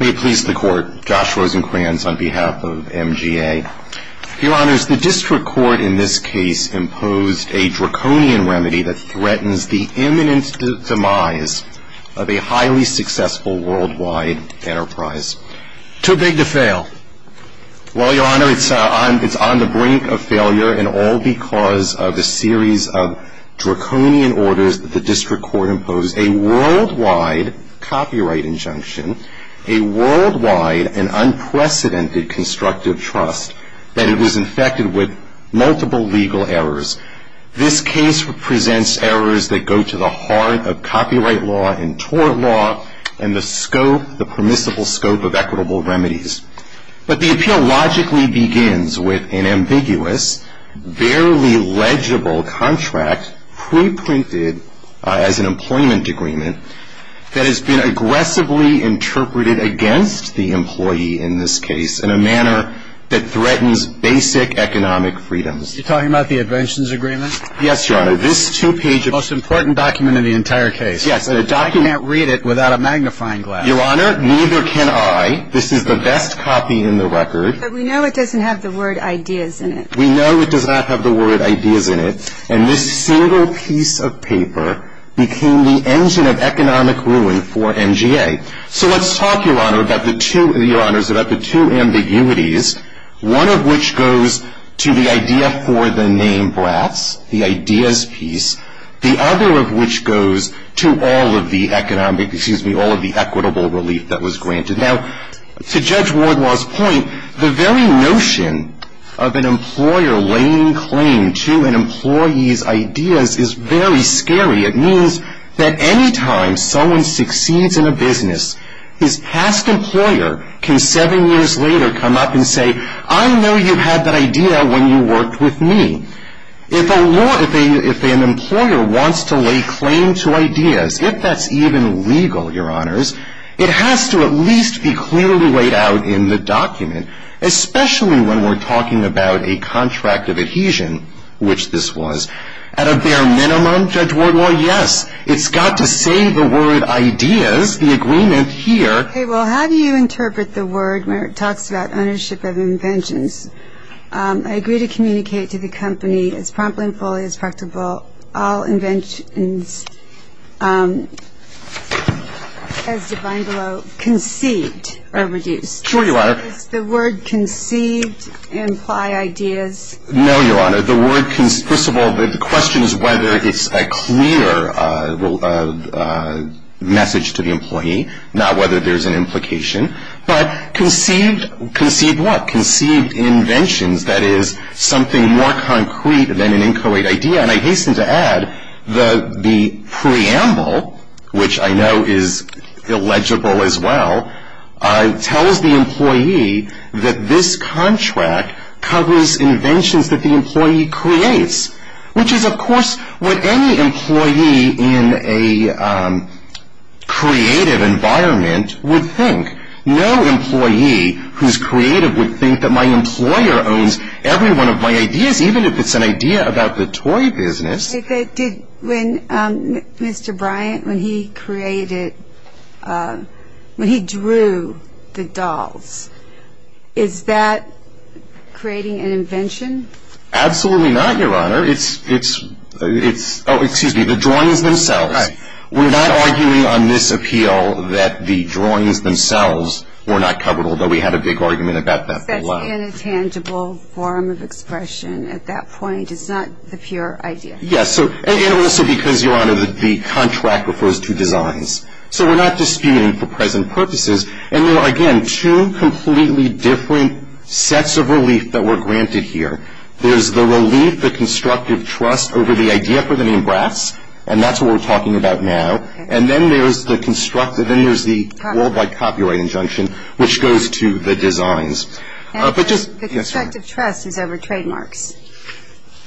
May it please the Court, Josh Rosenkranz on behalf of MGA. Your Honors, the District Court in this case imposed a draconian remedy that threatens the imminent demise of a highly successful worldwide enterprise. Too big to fail. Well, Your Honor, it's on the brink of failure and all because of a series of draconian orders that the District Court imposed. A worldwide copyright injunction, a worldwide and unprecedented constructive trust that it was infected with multiple legal errors. This case presents errors that go to the heart of copyright law and tort law and the scope, the permissible scope of equitable remedies. But the appeal logically begins with an ambiguous, barely legible contract preprinted as an employment agreement that has been aggressively interpreted against the employee in this case in a manner that threatens basic economic freedoms. You're talking about the inventions agreement? Yes, Your Honor. This two-page... The most important document in the entire case. Yes, but a document... You can't read it without a magnifying glass. Your Honor, neither can I. This is the best copy in the record. But we know it doesn't have the word ideas in it. We know it does not have the word ideas in it. And this single piece of paper became the engine of economic ruin for MGA. So let's talk, Your Honor, about the two ambiguities, one of which goes to the idea for the name brass, the ideas piece, the other of which goes to all of the equitable relief that was granted. Now, to Judge Wardwell's point, the very notion of an employer laying claim to an employee's ideas is very scary. It means that any time someone succeeds in a business, his past employer can seven years later come up and say, I know you had that idea when you worked with me. If an employer wants to lay claim to ideas, if that's even legal, Your Honors, it has to at least be clearly laid out in the document, especially when we're talking about a contract of adhesion, which this was. At a bare minimum, Judge Wardwell, yes, it's got to say the word ideas, the agreement here. Okay, well, how do you interpret the word when it talks about ownership of inventions? I agree to communicate to the company as promptly and fully as possible all inventions, as defined below, conceived or produced. Sure you are. Does the word conceive imply ideas? No, Your Honor. The word, first of all, the question is whether it's a clear message to the employee, not whether there's an implication. But conceived, conceived what? Conceived inventions, that is something more concrete than an inchoate idea. And I hasten to add the preamble, which I know is illegible as well, tells the employee that this contract covers inventions that the employee creates, which is, of course, what any employee in a creative environment would think. No employee who's creative would think that my employer owns every one of my ideas, even if it's an idea about the toy business. When Mr. Bryant, when he created, when he drew the dolls, is that creating an invention? Absolutely not, Your Honor. Oh, excuse me, the drawings themselves. Right. We're not arguing on this appeal that the drawings themselves were not covered, although we had a big argument about that below. That's an intangible form of expression at that point. It's not a pure idea. Yes, and also because, Your Honor, the contract refers to designs. So we're not disputing for present purposes. And there are, again, two completely different sets of relief that were granted here. There's the relief, the constructive trust over the idea for the name Bratz, and that's what we're talking about now. And then there's the copyright injunction, which goes to the designs. The constructive trust is over trademarks.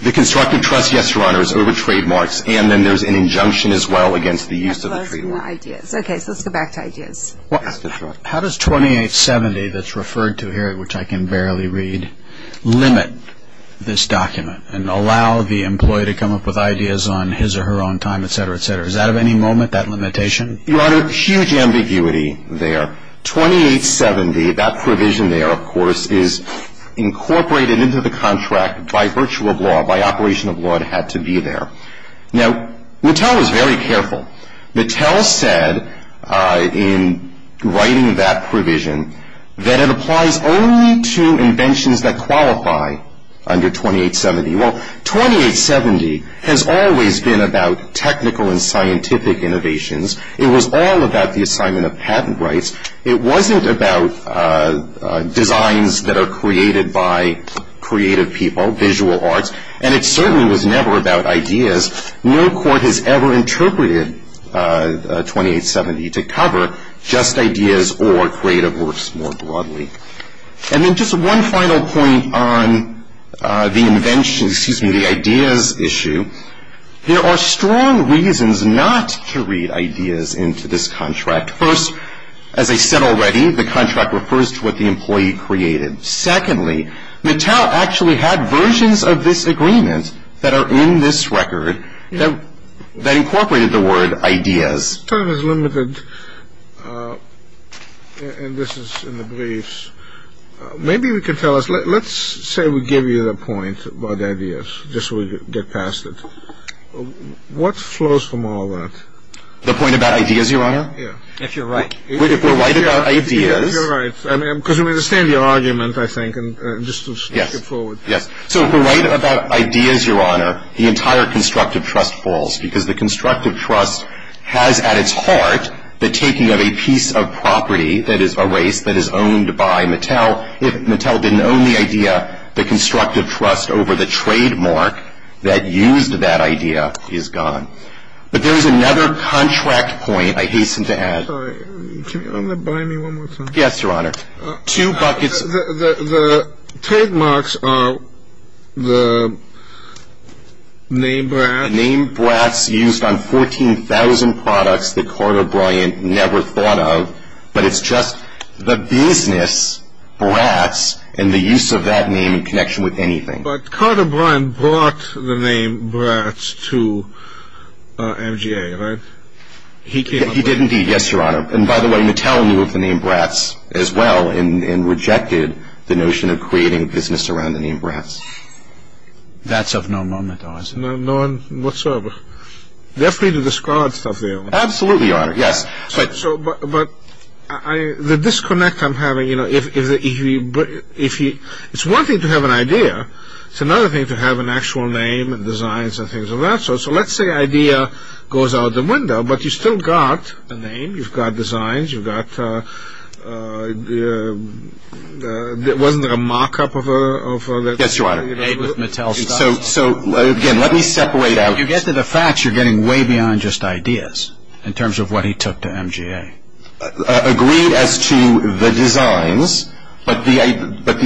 The constructive trust, yes, Your Honor, is over trademarks, and then there's an injunction as well against the use of a trademark. Okay, so let's go back to ideas. How does 2870 that's referred to here, which I can barely read, limit this document and allow the employee to come up with ideas on his or her own time, et cetera, et cetera? Is that of any moment, that limitation? Your Honor, huge ambiguity there. 2870, that provision there, of course, is incorporated into the contract by virtue of law, by operation of law, it had to be there. Now, Mattel was very careful. Mattel said in writing that provision that it applies only to inventions that qualify under 2870. Well, 2870 has always been about technical and scientific innovations. It was all about the assignment of patent rights. It wasn't about designs that are created by creative people, visual arts, and it certainly was never about ideas. No court has ever interpreted 2870 to cover just ideas or creative works more broadly. And then just one final point on the ideas issue. There are strong reasons not to read ideas into this contract. First, as I said already, the contract refers to what the employee created. Secondly, Mattel actually had versions of this agreement that are in this record that incorporated the word ideas. This time is limited, and this is in the briefs. Maybe you could tell us, let's say we give you the point about ideas, just so we get past it. What flows from all that? The point about ideas, Your Honor? Yeah. If you're right. We're right about ideas. You're right, because we understand your argument, I think, and just move forward. Yes. So if we're right about ideas, Your Honor, the entire constructive trust falls, because the constructive trust has at its heart the taking of a piece of property that is erased, that is owned by Mattel. If Mattel didn't own the idea, the constructive trust over the trademark that used that idea is gone. But there is another contract point I hasten to add. I'm sorry. Can you remind me one more time? Yes, Your Honor. The trademarks are the name Bratz. The name Bratz used on 14,000 products that Carter Bryant never thought of, but it's just the business, Bratz, and the use of that name in connection with anything. But Carter Bryant brought the name Bratz to MGA, right? He did indeed, yes, Your Honor. And by the way, Mattel moved the name Bratz as well and rejected the notion of creating a business around the name Bratz. That's of no moment, Your Honor. No, whatsoever. You're free to discard stuff, Your Honor. Absolutely, Your Honor. Yes. But the disconnect I'm having, you know, it's one thing to have an idea. It's another thing to have an actual name and designs and things of that sort. So let's say an idea goes out the window, but you still got a name. You've got designs. Wasn't there a mock-up of it? Yes, Your Honor. So, again, let me separate out. If you get to the facts, you're getting way beyond just ideas in terms of what he took to MGA. I agree as to the designs, but the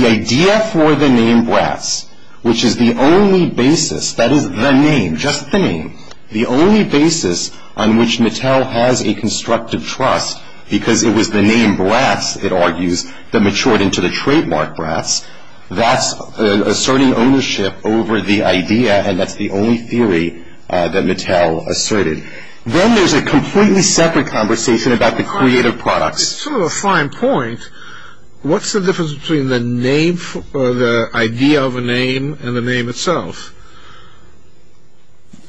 idea for the name Bratz, which is the only basis, that is the name, just the name, the only basis on which Mattel has a constructive trust, because it was the name Bratz, it argues, that matured into the trademark, perhaps. That's asserting ownership over the idea, and that's the only theory that Mattel asserted. Then there's a completely separate conversation about the creative products. It's sort of a fine point. What's the difference between the idea of a name and the name itself?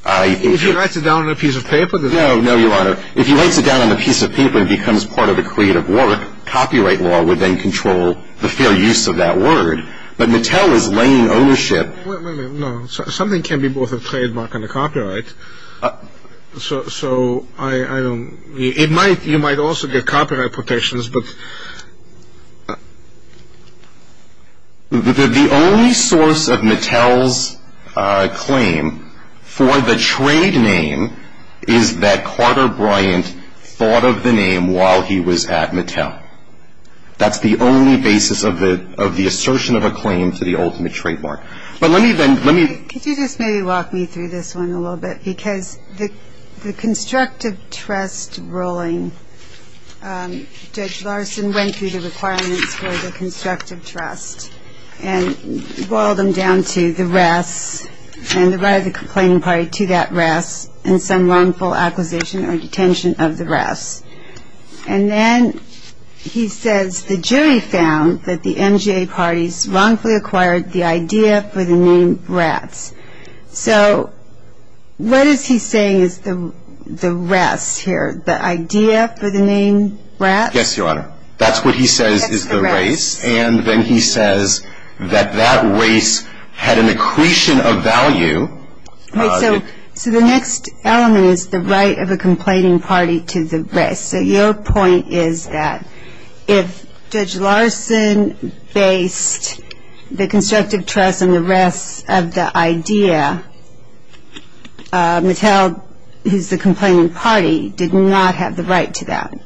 If you write it down on a piece of paper? No, Your Honor. If you write it down on a piece of paper and it becomes part of a creative work, copyright law would then control the fair use of that word. But Mattel is laying ownership. No, something can be both a trademark and a copyright. So, I don't, it might, you might also get copyright protections, but. The only source of Mattel's claim for the trade name is that Carter Bryant thought of the name while he was at Mattel. That's the only basis of the assertion of a claim to the ultimate trademark. But let me then, let me. Could you just maybe walk me through this one a little bit? Because the constructive trust ruling, Judge Larson went through the requirements for the constructive trust and boiled them down to the rest, and the right of the complaining party to that rest, and some wrongful acquisition or detention of the rest. And then he says the jury found that the NGA parties wrongfully acquired the idea for the name rest. So, what is he saying is the rest here, the idea for the name rest? Yes, Your Honor. That's what he says is the rest. And then he says that that rest had an accretion of value. So, the next element is the right of the complaining party to the rest. So, your point is that if Judge Larson based the constructive trust on the rest of the idea, Mattel, who's the complaining party, did not have the right to that.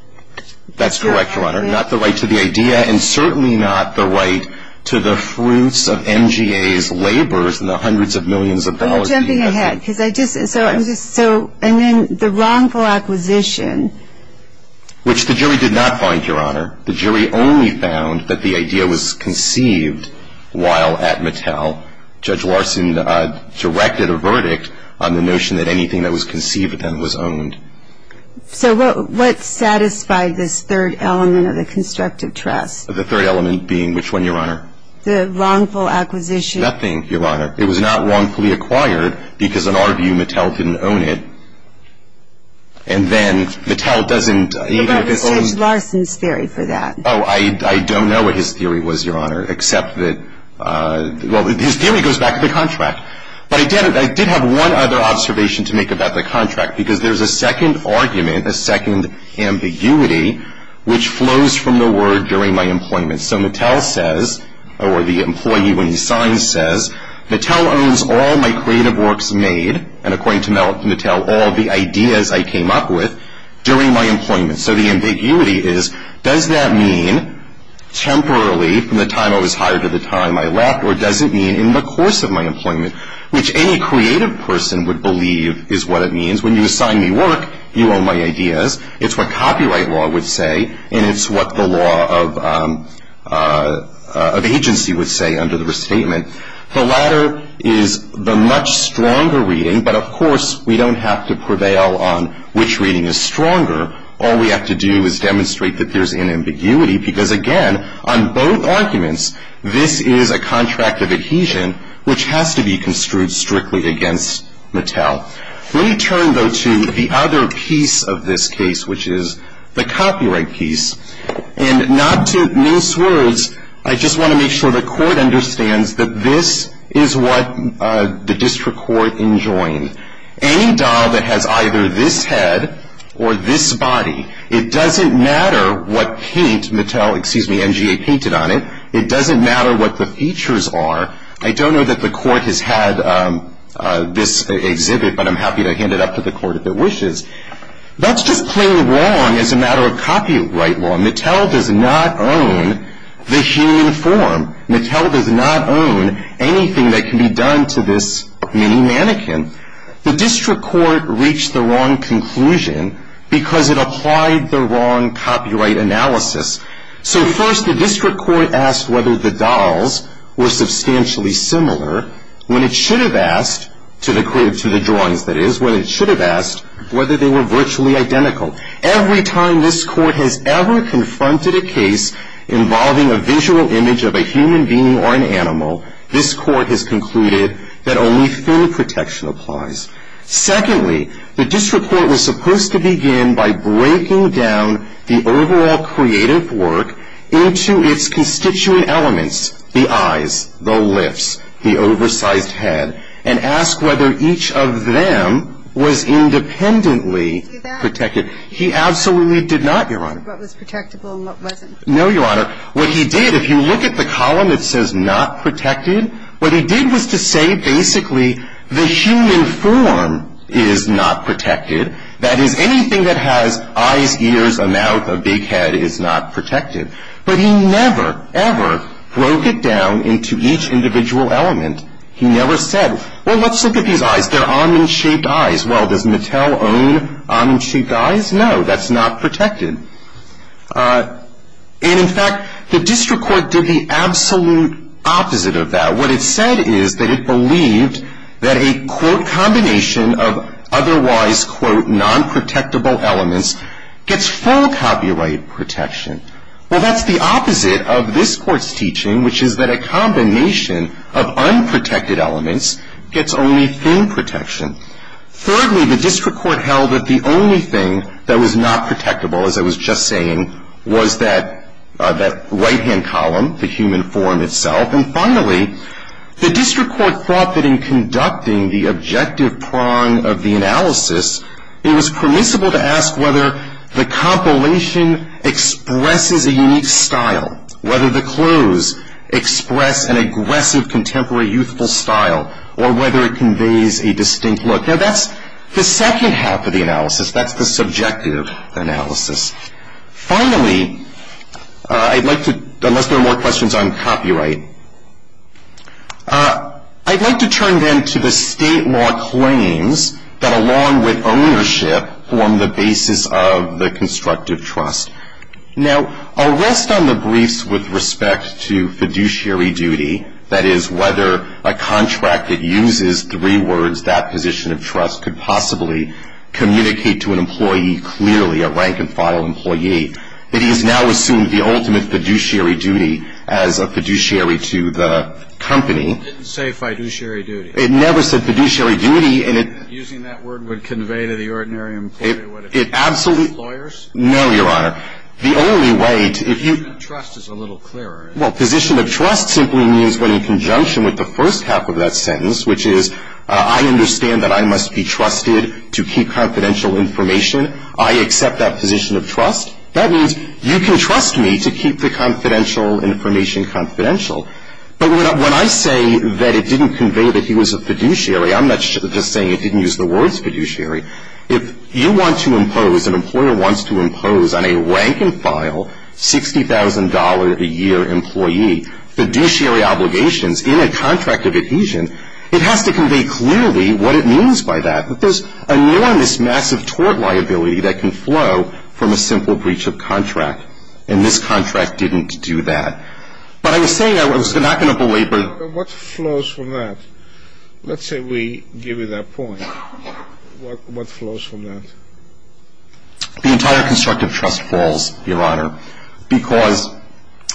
That's correct, Your Honor. Not the right to the idea, and certainly not the right to the fruits of NGA's labors and the hundreds of millions of dollars. I'm jumping ahead. And then the wrongful acquisition. Which the jury did not find, Your Honor. The jury only found that the idea was conceived while at Mattel. Judge Larson directed a verdict on the notion that anything that was conceived then was owned. So, what satisfied this third element of the constructive trust? The third element being which one, Your Honor? The wrongful acquisition. Nothing, Your Honor. It was not wrongfully acquired because, in our view, Mattel didn't own it. And then Mattel doesn't even if it owns – But that was Judge Larson's theory for that. Oh, I don't know what his theory was, Your Honor, except that – well, his theory goes back to the contract. But I did have one other observation to make about the contract, because there's a second argument, a second ambiguity, which flows from the word during my employment. So, Mattel says, or the employee when he signs says, Mattel owns all my creative works made, and according to Mattel, all the ideas I came up with during my employment. So, the ambiguity is, does that mean temporarily from the time I was hired to the time I left, or does it mean in the course of my employment, which any creative person would believe is what it means. When you assign me work, you own my ideas. It's what copyright law would say, and it's what the law of agency would say under the restatement. The latter is the much stronger reading, but, of course, we don't have to prevail on which reading is stronger. All we have to do is demonstrate that there's an ambiguity, because, again, on both arguments, this is a contract of adhesion which has to be construed strictly against Mattel. Let me turn, though, to the other piece of this case, which is the copyright piece. And not to miss words, I just want to make sure the court understands that this is what the district court enjoins. Any doll that has either this head or this body, it doesn't matter what paint Mattel, excuse me, MGA painted on it. It doesn't matter what the features are. I don't know that the court has had this exhibit, but I'm happy to hand it up to the court if it wishes. That's just plain wrong as a matter of copyright law. Mattel does not own this uniform. Mattel does not own anything that can be done to this mini-mannequin. The district court reached the wrong conclusion because it applied the wrong copyright analysis. So, first, the district court asked whether the dolls were substantially similar when it should have asked, to the drunk, that is, when it should have asked whether they were virtually identical. Every time this court has ever confronted a case involving a visual image of a human being or an animal, this court has concluded that only film protection applies. Secondly, the district court was supposed to begin by breaking down the overall creative work into its constituent elements, the eyes, the lips, the oversized head, and ask whether each of them was independently protected. He absolutely did not, Your Honor. What was protectable and what wasn't? No, Your Honor. What he did, if you look at the column that says not protected, what he did was to say, basically, the human form is not protected. That is, anything that has eyes, ears, a mouth, a big head is not protected. But he never, ever broke it down into each individual element. He never said, well, let's look at these eyes. They're almond-shaped eyes. Well, does Mattel own almond-shaped eyes? No, that's not protected. And, in fact, the district court did the absolute opposite of that. What it said is that it believed that a, quote, combination of otherwise, quote, non-protectable elements gets full copyright protection. Well, that's the opposite of this court's teaching, which is that a combination of unprotected elements gets only film protection. Thirdly, the district court held that the only thing that was not protectable, as I was just saying, was that right-hand column, the human form itself. And, finally, the district court thought that in conducting the objective prong of the analysis, it was permissible to ask whether the compilation expresses a unique style, whether the clues express an aggressive, contemporary, youthful style, or whether it conveys a distinct look. Now, that's the second half of the analysis. That's the subjective analysis. Finally, I'd like to, unless there are more questions on copyright, I'd like to turn then to the state law claims that, along with ownership, form the basis of the constructive trust. Now, I'll rest on the briefs with respect to fiduciary duty, that is, whether a contract that uses three words, that position of trust, could possibly communicate to an employee clearly, a rank-and-file employee, that he has now assumed the ultimate fiduciary duty as a fiduciary to the company. It didn't say fiduciary duty. It never said fiduciary duty. Using that word would convey to the ordinary employer what it meant. It absolutely Lawyers? No, Your Honor. The only way to, if you Position of trust is a little clearer. Well, position of trust simply means that in conjunction with the first half of that sentence, which is, I understand that I must be trusted to keep confidential information, I accept that position of trust. That means you can trust me to keep the confidential information confidential. But when I say that it didn't convey that he was a fiduciary, I'm not just saying it didn't use the words fiduciary. If you want to impose, an employer wants to impose on a rank-and-file, $60,000 a year employee, fiduciary obligations in a contract of adhesion, it has to convey clearly what it means by that. There's enormous, massive tort liability that can flow from a simple breach of contract, and this contract didn't do that. But I was saying, I was not going to belabor What flows from that? Let's say we give you that point. What flows from that? The entire constructive trust falls, Your Honor, because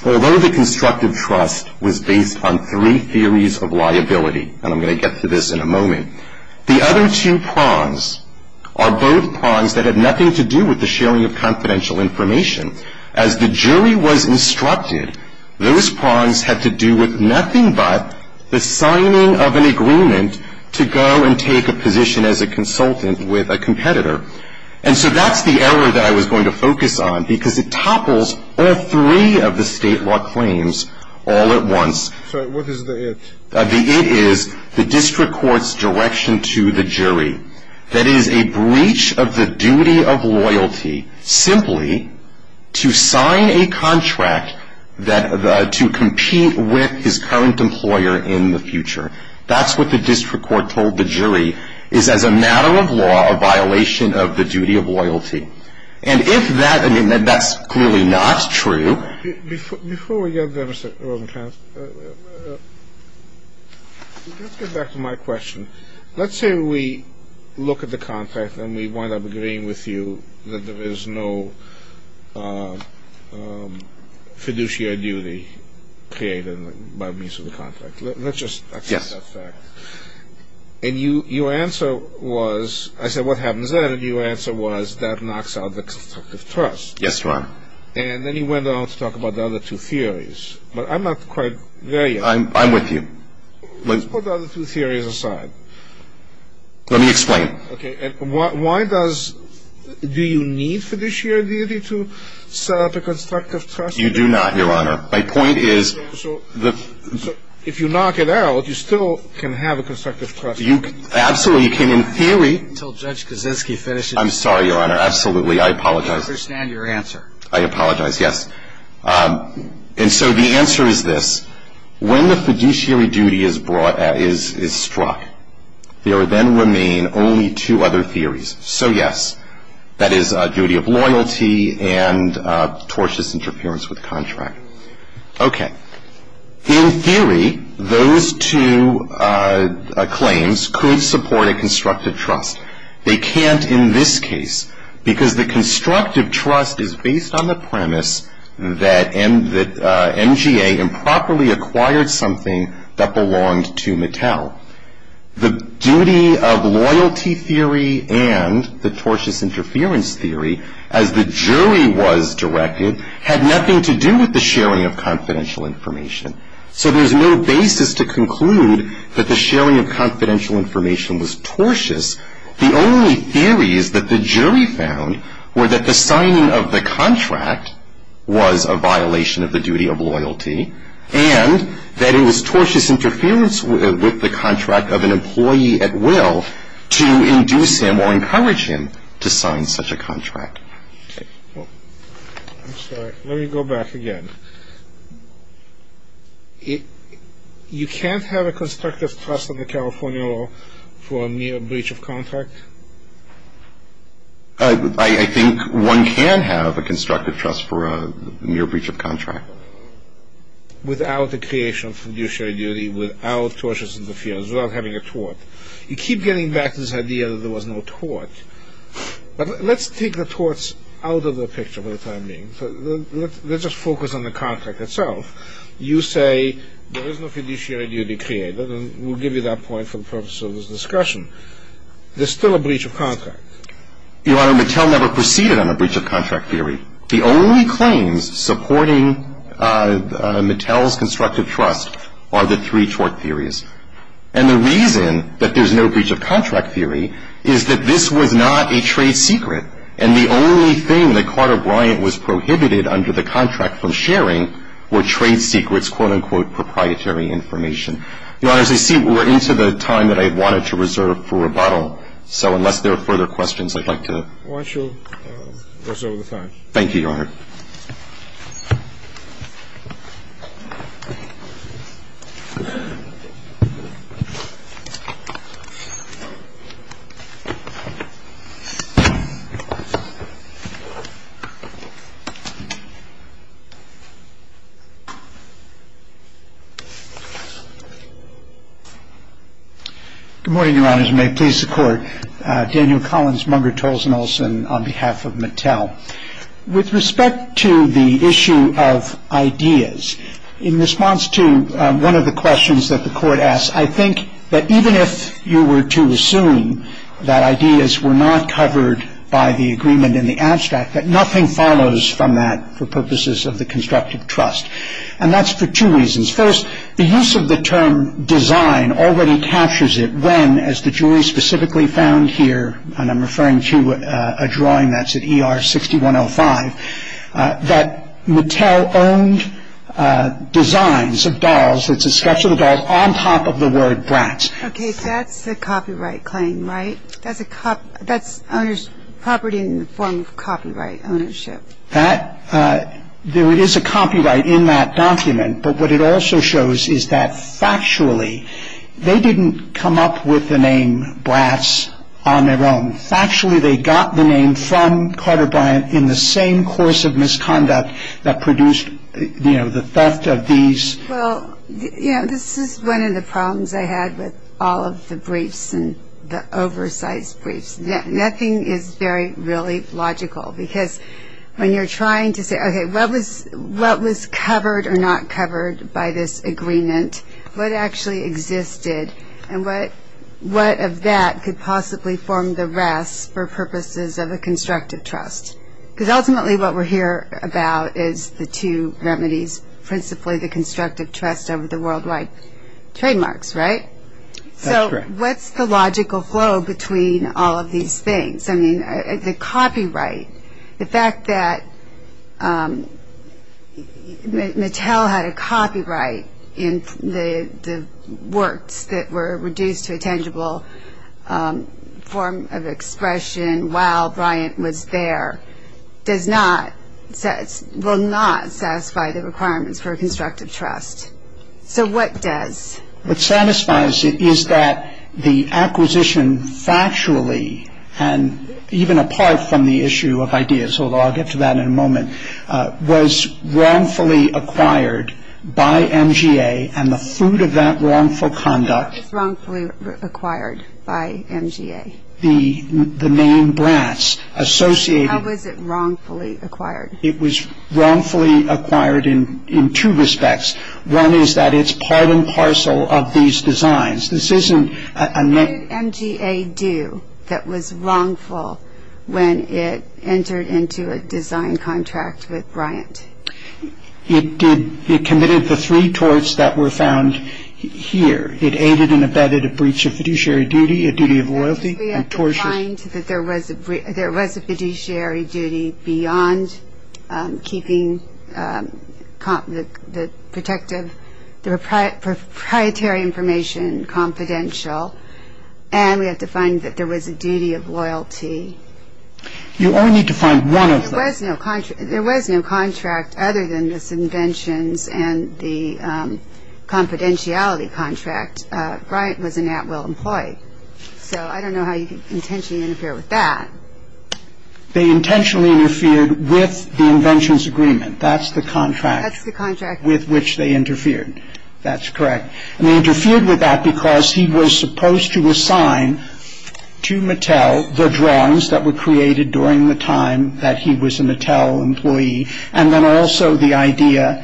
although the constructive trust was based on three theories of liability, and I'm going to get to this in a moment, the other two prongs are those prongs that had nothing to do with the sharing of confidential information. As the jury was instructed, those prongs had to do with nothing but the signing of an agreement to go and take a position as a consultant with a competitor. And so that's the error that I was going to focus on, because it topples all three of the state law claims all at once. So what is the it? That is a breach of the duty of loyalty simply to sign a contract to compete with his current employer in the future. That's what the district court told the jury is as a matter of law a violation of the duty of loyalty. And if that, I mean, that's clearly not true. Before we get to that, let's get back to my question. Let's say we look at the contract and we wind up agreeing with you that there is no fiduciary duty created by means of the contract. Let's just accept that fact. And your answer was, I said, what happens then? And your answer was that knocks out the constructive trust. Yes, Your Honor. And then you went on to talk about the other two theories. But I'm not quite there yet. I'm with you. Let's put the other two theories aside. Let me explain. Okay. And why does, do you need fiduciary duty to set up a constructive trust? You do not, Your Honor. My point is. So if you knock it out, you still can have a constructive trust. Absolutely. In theory. Until Judge Kaczynski finishes. I'm sorry, Your Honor. Absolutely. I apologize. I don't understand your answer. I apologize. Yes. And so the answer is this. When the fiduciary duty is struck, there then remain only two other theories. So, yes, that is duty of loyalty and tortious interference with contract. Okay. In theory, those two claims could support a constructive trust. They can't in this case. Because the constructive trust is based on the premise that MGA improperly acquired something that belonged to Mattel. The duty of loyalty theory and the tortious interference theory, as the jury was directed, had nothing to do with the sharing of confidential information. So there's no basis to conclude that the sharing of confidential information was tortious. The only theories that the jury found were that the signing of the contract was a violation of the duty of loyalty, and that it was tortious interference with the contract of an employee at will to induce him or encourage him to sign such a contract. I'm sorry. Let me go back again. You can't have a constructive trust on the California law for a near breach of contract? I think one can have a constructive trust for a near breach of contract. Without the creation of fiduciary duty, without tortious interference, without having a tort. You keep getting back to this idea that there was no tort. But let's take the torts out of the picture for the time being. Let's just focus on the contract itself. You say there is no fiduciary duty created, and we'll give you that point for the purpose of this discussion. There's still a breach of contract. Your Honor, Mattel never proceeded on a breach of contract theory. The only claims supporting Mattel's constructive trust are the three tort theories. And the reason that there's no breach of contract theory is that this was not a trade secret, and the only thing that Carter Bryant was prohibited under the contract from sharing were trade secrets, quote-unquote, proprietary information. Your Honor, as we see, we're into the time that I wanted to reserve for rebuttal. So unless there are further questions, I'd like to watch over the time. Thank you, Your Honor. Thank you. Good morning, Your Honors. May it please the Court. Daniel Collins, member of Tarleton Olson, on behalf of Mattel. With respect to the issue of ideas, in response to one of the questions that the Court asked, I think that even if you were to assume that ideas were not covered by the agreement in the abstract, that nothing follows from that for purposes of the constructive trust. And that's for two reasons. First, the use of the term design already captures it when, as the jury specifically found here, and I'm referring to a drawing that's at ER 6105, that Mattel owned designs of dolls, which are sketchy dolls, on top of the word Bratz. Okay, that's the copyright claim, right? That's property in the form of copyright ownership. There is a copyright in that document, but what it also shows is that, factually, they didn't come up with the name Bratz on their own. Factually, they got the name from Carter Bryant in the same course of misconduct that produced, you know, the theft of these. Well, you know, this is one of the problems I had with all of the briefs and the oversized briefs. Nothing is very, really logical because when you're trying to say, okay, what was covered or not covered by this agreement, what actually existed and what of that could possibly form the rest for purposes of a constructive trust? Because ultimately what we're here about is the two remedies, principally the constructive trust of the worldwide trademarks, right? That's correct. So what's the logical flow between all of these things? The copyright. The fact that Mattel had a copyright in the works that were reduced to a tangible form of expression while Bryant was there does not, will not satisfy the requirements for a constructive trust. So what does? What satisfies it is that the acquisition factually and even apart from the issue of ideas, although I'll get to that in a moment, was wrongfully acquired by MGA and the food of that wrongful conduct. Wrongfully acquired by MGA. The name Bratz associated. How was it wrongfully acquired? It was wrongfully acquired in two respects. One is that it's part and parcel of these designs. This isn't a name. What did MGA do that was wrongful when it entered into a design contract with Bryant? It did, it committed the three torts that were found here. It aided and abetted a breach of fiduciary duty, a duty of loyalty and torture. We have to find that there was a fiduciary duty beyond keeping the protective proprietary information confidential, and we have to find that there was a duty of loyalty. You only need to find one of them. There was no contract other than the conventions and the confidentiality contract. Bryant was an at-will employee. So I don't know how you could intentionally interfere with that. They intentionally interfered with the inventions agreement. That's the contract with which they interfered. That's correct. And they interfered with that because he was supposed to assign to Mattel the drawings that were created during the time that he was a Mattel employee, and then also the idea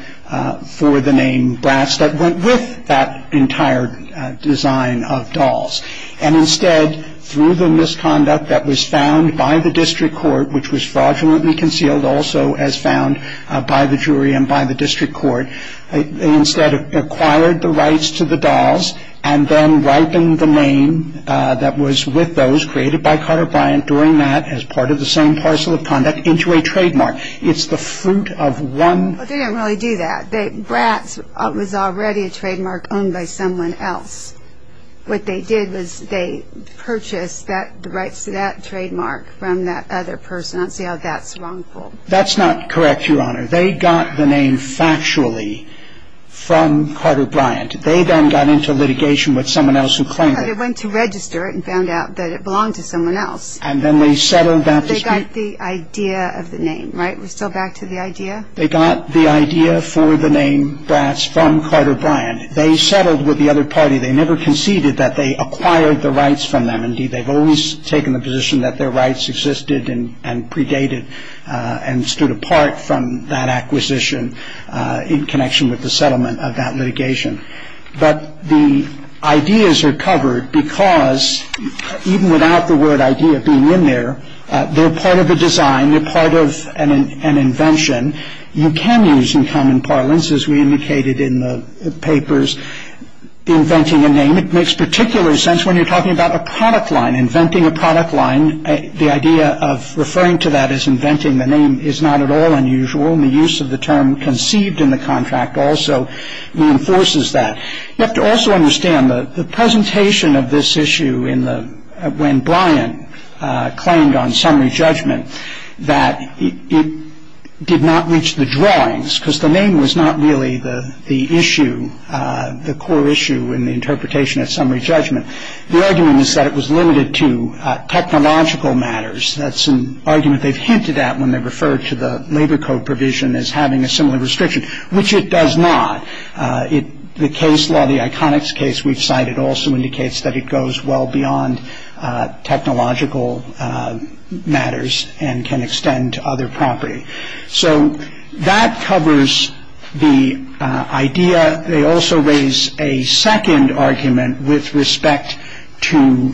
for the name Brass that went with that entire design of dolls. And instead, through the misconduct that was found by the district court, which was fraudulently concealed also as found by the jury and by the district court, they instead acquired the rights to the dolls and then ripened the name that was with those created by Carter Bryant during that as part of the same parcel of conduct into a trademark. It's the fruit of one... They didn't really do that. Brass was already a trademark owned by someone else. What they did was they purchased the rights to that trademark from that other person and said, oh, that's wrongful. That's not correct, Your Honor. They got the name factually from Carter Bryant. They then got into litigation with someone else who claimed it. They went to register it and found out that it belonged to someone else. And then they settled that dispute. They got the idea of the name, right? We're still back to the idea? They got the idea for the name Brass from Carter Bryant. They settled with the other party. They never conceded that they acquired the rights from them. Indeed, they've always taken the position that their rights existed and predated and stood apart from that acquisition in connection with the settlement of that litigation. But the ideas are covered because even without the word idea being in there, they're part of a design. They're part of an invention. You can use in common parlance, as we indicated in the papers, inventing a name. It makes particular sense when you're talking about a product line, inventing a product line. The idea of referring to that as inventing the name is not at all unusual. The use of the term conceived in the contract also reinforces that. You have to also understand the presentation of this issue when Bryant claimed on summary judgment that it did not reach the drawings because the name was not really the issue, the core issue in the interpretation of summary judgment. The argument is that it was limited to technological matters. That's an argument they've hinted at when they referred to the labor code provision as having a similar restriction, which it does not. The case law, the ICONICS case we've cited, also indicates that it goes well beyond technological matters and can extend to other property. So that covers the idea. They also raise a second argument with respect to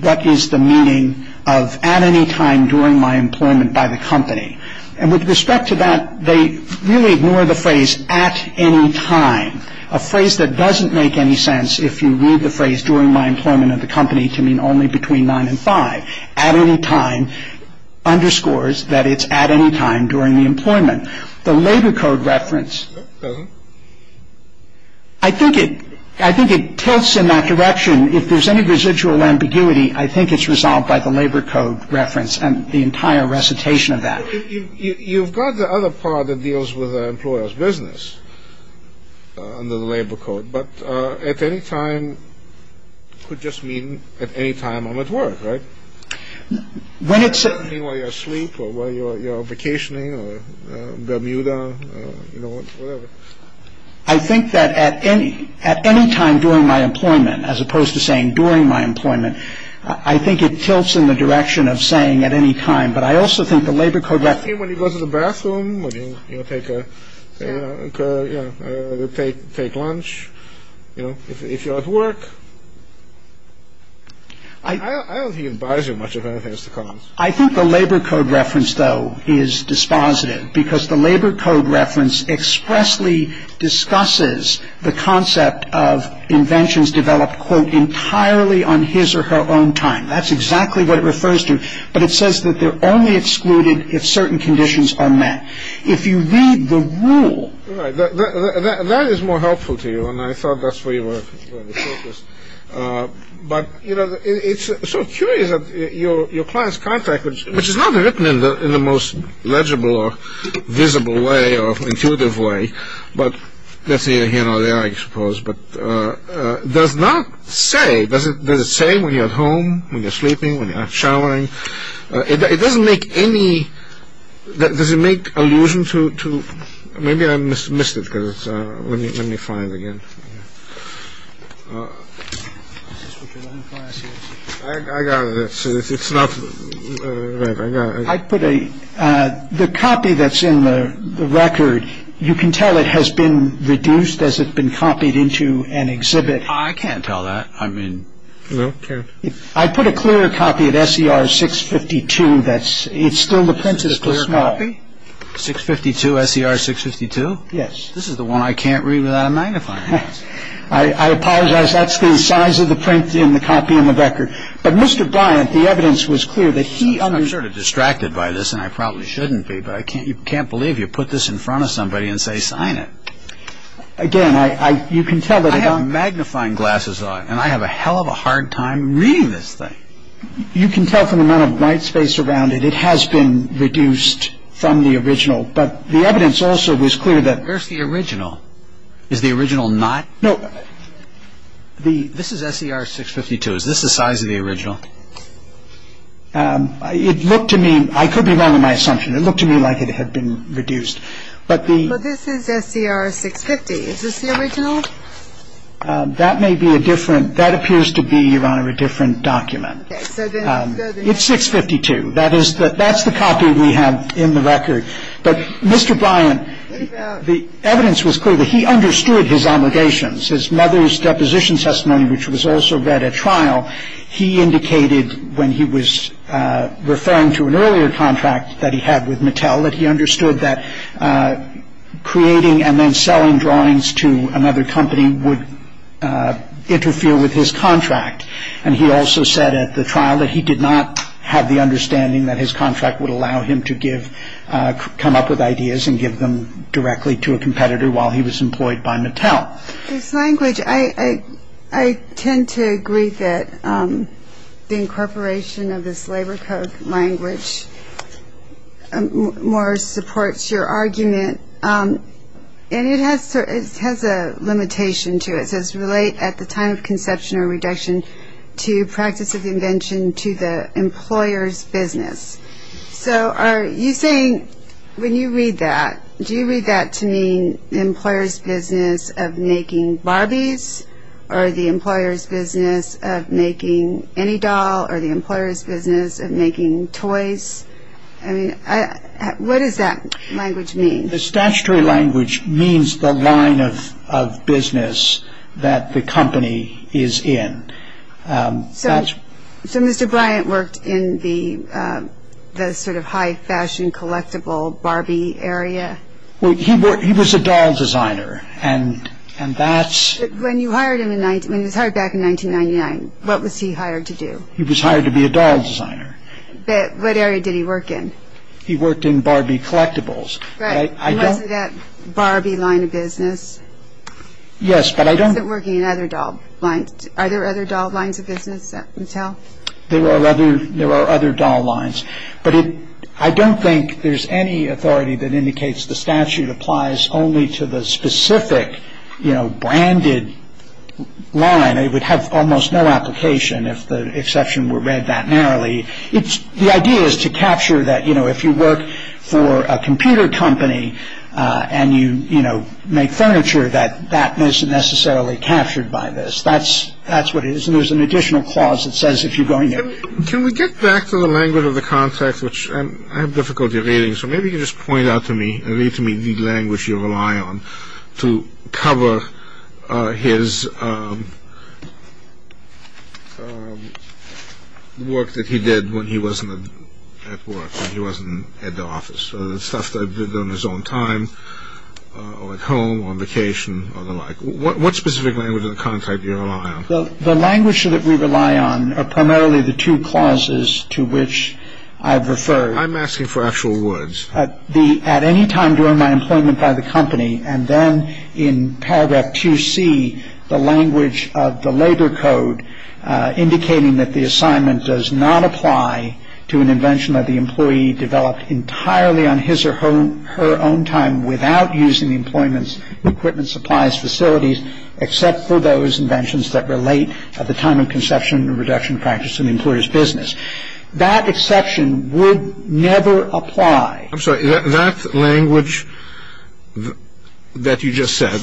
what is the meaning of at any time during my employment by the company. And with respect to that, they really ignore the phrase at any time, a phrase that doesn't make any sense if you read the phrase during my employment at the company to mean only between nine and five. At any time underscores that it's at any time during the employment. The labor code reference. I think it I think it tilts in that direction. If there's any residual ambiguity, I think it's resolved by the labor code reference and the entire recitation of that. You've got the other part that deals with employers business under the labor code, but at any time could just mean at any time I'm at work, right? While you're asleep or while you're vacationing or Bermuda or whatever. I think that at any at any time during my employment, as opposed to saying during my employment, I think it tilts in the direction of saying at any time. But I also think the labor code reference. When you go to the bathroom, when you take a take lunch, you know, if you have work. I don't think it buys you much of anything. I think the labor code reference, though, is dispositive because the labor code reference expressly discusses the concept of inventions developed, quote, entirely on his or her own time. That's exactly what it refers to. But it says that they're only excluded if certain conditions are met. If you read the rule. That is more helpful to you, and I thought that's where you were focused. But, you know, it's so curious that your client's contract, which is not written in the most legible or visible way or intuitive way, but that's here, here, and there, I suppose, but does not say, does it say when you're at home, when you're sleeping, when you're showering? It doesn't make any. Does it make allusion to maybe I missed it? Because let me find again. I got it. It's not. I put a copy that's in the record. You can tell it has been reduced as it's been copied into an exhibit. I can't tell that. I mean. OK. I put a clear copy of S.E.R. six fifty two. That's it's still the print is clear copy. Six fifty two S.E.R. six fifty two. Yes. This is the one I can't read without a magnifier. I apologize. That's the size of the print in the copy in the record. But Mr. Bryant, the evidence was clear that he sort of distracted by this and I probably shouldn't be. But I can't you can't believe you put this in front of somebody and say sign it again. I have magnifying glasses on and I have a hell of a hard time reading this thing. You can tell from the amount of night space around it, it has been reduced from the original. But the evidence also was clear that the original is the original. Not the. This is S.E.R. six fifty two. Is this the size of the original? It looked to me I could be wrong in my assumption. It looked to me like it had been reduced. But this is S.E.R. six fifty. Is this the original? That may be a different. That appears to be, Your Honor, a different document. It's six fifty two. That is that that's the copy we have in the record. But Mr. Bryant, the evidence was clear that he understood his obligations. His mother's deposition testimony, which was also read at trial. He indicated when he was referring to an earlier contract that he had with Mattel, that he understood that creating and then selling drawings to another company would interfere with his contract. And he also said at the trial that he did not have the understanding that his contract would allow him to give, come up with ideas and give them directly to a competitor while he was employed by Mattel. This language, I tend to agree that the incorporation of this labor code language more supports your argument. And it has a limitation to it. It says relate at the time of conception or reduction to practice of invention to the employer's business. So you think when you read that, do you read that to mean the employer's business of making Barbies or the employer's business of making any doll or the employer's business of making toys? I mean, what does that language mean? The statutory language means the line of business that the company is in. So Mr. Bryant worked in the sort of high fashion collectible Barbie area? He was a doll designer. When he was hired back in 1999, what was he hired to do? He was hired to be a doll designer. What area did he work in? He worked in Barbie collectibles. Right. That Barbie line of business? Yes, but I don't. He wasn't working in other doll lines. Are there other doll lines of business at Mattel? There are other doll lines. But I don't think there's any authority that indicates the statute applies only to the specific, you know, branded line. It would have almost no application if the exception were read that narrowly. The idea is to capture that, you know, if you work for a computer company and you, you know, make furniture, that that isn't necessarily captured by this. That's what it is, and there's an additional clause that says if you're going to. Can we get back to the language of the contract, which I have difficulty reading, so maybe you can just point out to me the language you rely on to cover his work that he did when he wasn't at work, when he wasn't at the office, so the stuff that he did on his own time or at home or on vacation or the like. What specific language of the contract do you rely on? The language that we rely on are primarily the two clauses to which I've referred. I'm asking for actual words. At any time during my employment by the company, and then in paragraph 2C, the language of the labor code, indicating that the assignment does not apply to an invention that the employee developed entirely on his or her own time without using the employment's equipment, supplies, facilities, except for those inventions that relate at the time of conception and reduction practice in the employer's business. That exception would never apply. I'm sorry. That language that you just said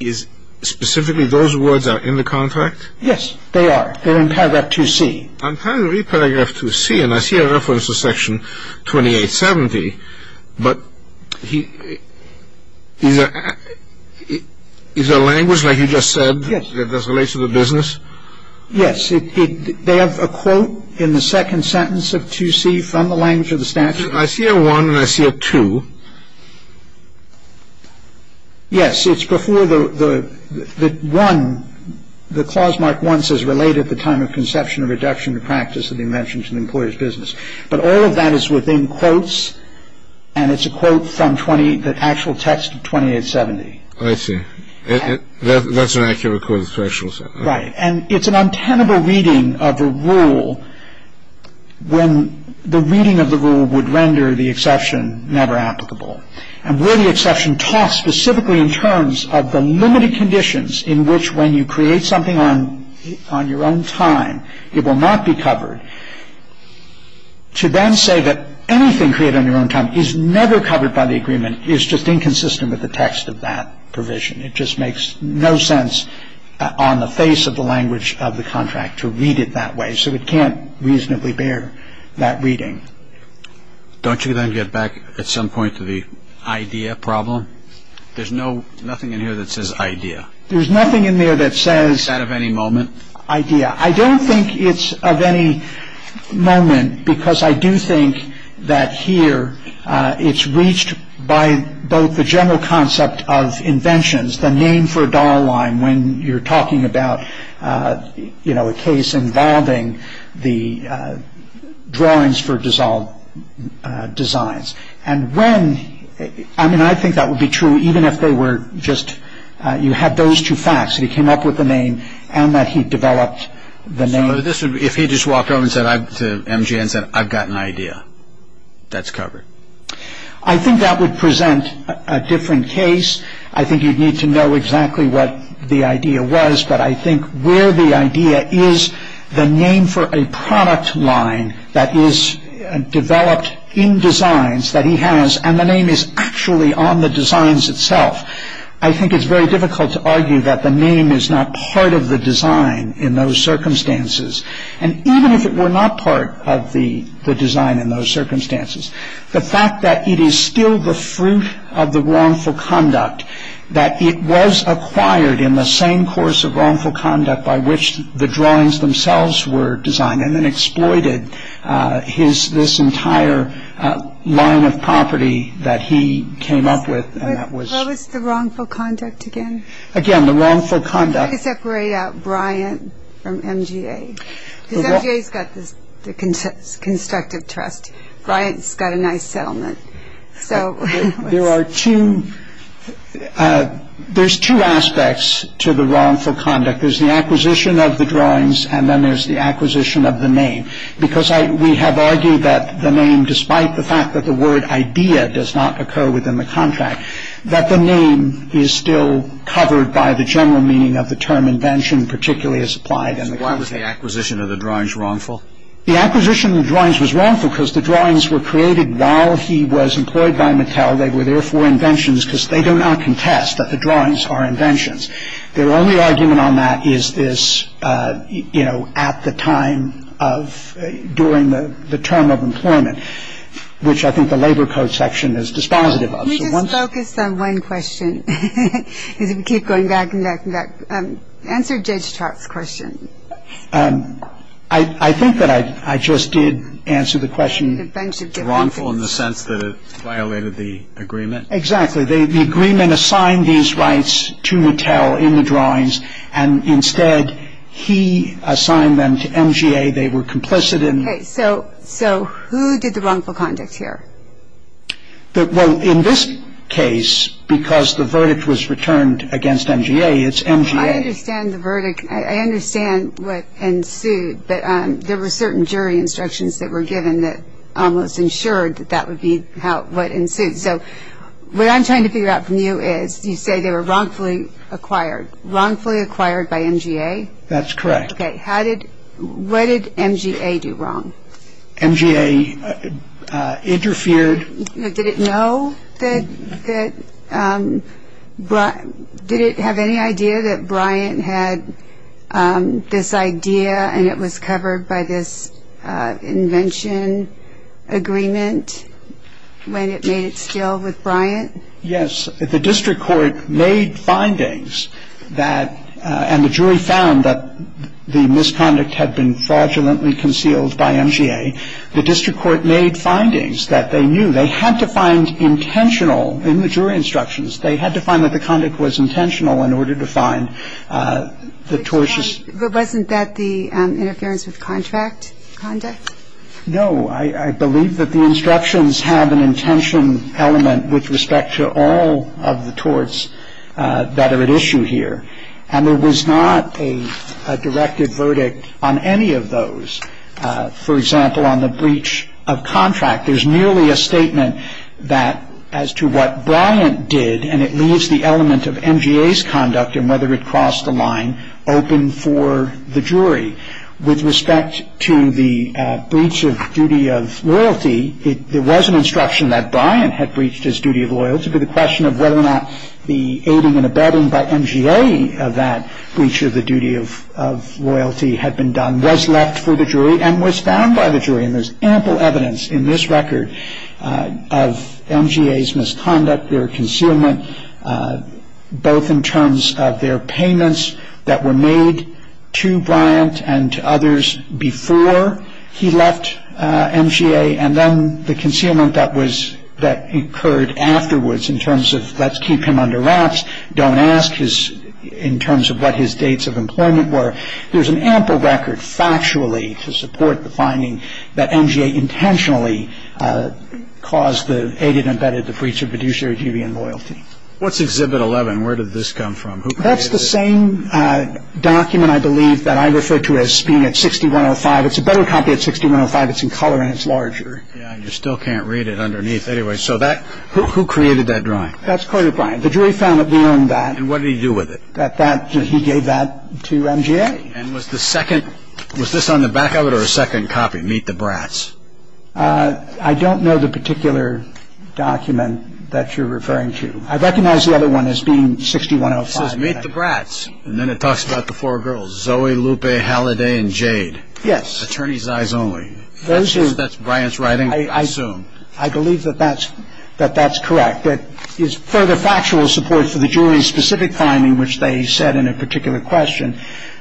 is specifically those words are in the contract? Yes, they are. They're in paragraph 2C. I'm trying to read paragraph 2C, and I see a reference to section 2870, but is there language like you just said that relates to the business? Yes. They have a quote in the second sentence of 2C from the language of the statute. I see a one and I see a two. Yes. It's before the one. The clause marked one says relate at the time of conception and reduction practice of the invention to the employer's business. But all of that is within quotes, and it's a quote from the actual text of 2870. I see. That's an actual quote. Right. And it's an untenable reading of the rule when the reading of the rule would render the exception never applicable. And where the exception talks specifically in terms of the limited conditions in which when you create something on your own time, it will not be covered. To then say that anything created on your own time is never covered by the agreement is just inconsistent with the text of that provision. It just makes no sense on the face of the language of the contract to read it that way. So it can't reasonably bear that reading. Don't you then get back at some point to the idea problem? There's nothing in here that says idea. There's nothing in there that says- Is that of any moment? I don't think it's of any moment because I do think that here it's reached by both the general concept of inventions, the name for a dollar line when you're talking about a case involving the drawings for dissolved designs. And when- I mean, I think that would be true even if they were just- you had those two facts. He came up with the name and that he developed the name. So if he just walked over and said to MGM, said, I've got an idea, that's covered? I think that would present a different case. I think you'd need to know exactly what the idea was. But I think where the idea is, the name for a product line that is developed in designs that he has, and the name is actually on the designs itself. I think it's very difficult to argue that the name is not part of the design in those circumstances. And even if it were not part of the design in those circumstances, the fact that it is still the fruit of the wrongful conduct, that it was acquired in the same course of wrongful conduct by which the drawings themselves were designed, and then exploited this entire line of property that he came up with and that was- What was the wrongful conduct again? Again, the wrongful conduct- How do you separate out Bryant from MGA? Because MGA's got the constructive trust. Bryant's got a nice settlement. So- There are two- there's two aspects to the wrongful conduct. There's the acquisition of the drawings, and then there's the acquisition of the name. Because we have argued that the name, despite the fact that the word idea does not occur within the contract, that the name is still covered by the general meaning of the term invention, particularly as applied in the- Why was the acquisition of the drawings wrongful? The acquisition of the drawings was wrongful because the drawings were created while he was employed by Mattel. They were therefore inventions because they do not contest that the drawings are inventions. Their only argument on that is this, you know, at the time of doing the term of employment, which I think the Labor Code section is dispositive of. Can we just focus on one question? Because we keep going back and back and back. Answer Jay's question. I think that I just did answer the question wrongful in the sense that it violated the agreement. Exactly. The agreement assigned these rights to Mattel in the drawings, and instead he assigned them to MGA. They were complicit in- Okay, so who did the wrongful conduct here? Well, in this case, because the verdict was returned against MGA, it's MGA- I understand the verdict. I understand what ensued. There were certain jury instructions that were given that almost ensured that that would be what ensued. So what I'm trying to figure out from you is you say they were wrongfully acquired. Wrongfully acquired by MGA? That's correct. Okay. What did MGA do wrong? MGA interfered- Did it have any idea that Bryant had this idea and it was covered by this invention agreement when it made its sale with Bryant? Yes. The district court made findings that-and the jury found that the misconduct had been fraudulently concealed by MGA. The district court made findings that they knew they had to find intentional in the jury instructions. They had to find that the conduct was intentional in order to find the tortious- But wasn't that the interference with contract conduct? No. I believe that the instructions have an intention element with respect to all of the torts that are at issue here. And there was not a directed verdict on any of those. For example, on the breach of contract, there's nearly a statement that as to what Bryant did, and it leaves the element of MGA's conduct and whether it crossed the line open for the jury. With respect to the breach of duty of loyalty, there was an instruction that Bryant had breached his duty of loyalty, but the question of whether or not the aiding and abetting by MGA, that breach of the duty of loyalty had been done, was left for the jury and was found by the jury. And there's ample evidence in this record of MGA's misconduct, their concealment, both in terms of their payments that were made to Bryant and to others before he left MGA, and then the concealment that occurred afterwards in terms of, let's keep him under wraps, don't ask in terms of what his dates of employment were. There's an ample record factually to support the finding that MGA intentionally caused the aiding and abetting of the breach of fiduciary duty and loyalty. What's Exhibit 11? Where did this come from? That's the same document, I believe, that I refer to as being at 6105. It's a better copy at 6105. It's in color and it's larger. Yeah, and you still can't read it underneath. Anyway, so who created that drawing? That's Carter Bryant. The jury found that they owned that. And what did he do with it? That he gave that to MGA. And was this on the back of it or a second copy, Meet the Brats? I don't know the particular document that you're referring to. I recognize the other one as being 6105. It says Meet the Brats, and then it talks about the four girls, Zoe, Lupe, Halliday, and Jade. Attorney's eyes only. That's Bryant's writing, I assume. I believe that that's correct. But it's further factual support for the jury's specific finding, which they said in a particular question,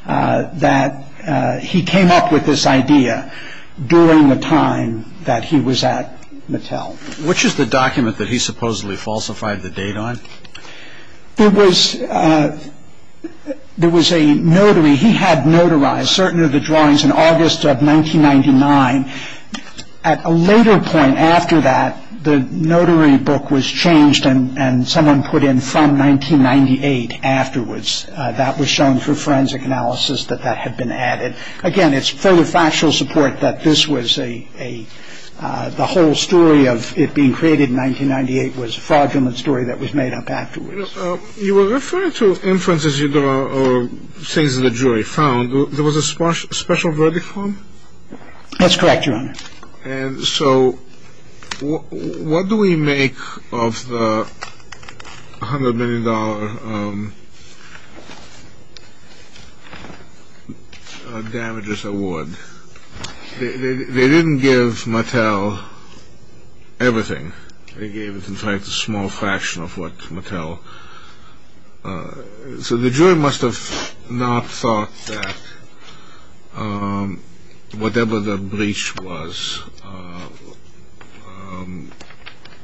that he came up with this idea during the time that he was at Mattel. Which is the document that he supposedly falsified the date on? There was a notary. He had notarized certain of the drawings in August of 1999. At a later point after that, the notary book was changed and someone put in from 1998 afterwards. That was shown for forensic analysis that that had been added. Again, it's further factual support that this was a whole story of it being created in 1998 was a fraudulent story that was made up afterwards. You were referring to inferences or things that the jury found. There was a special verdict for them? That's correct, Your Honor. And so what do we make of the $100 million damages award? They didn't give Mattel everything. They gave it in fact a small fraction of what Mattel... So the jury must have not thought that whatever the breach was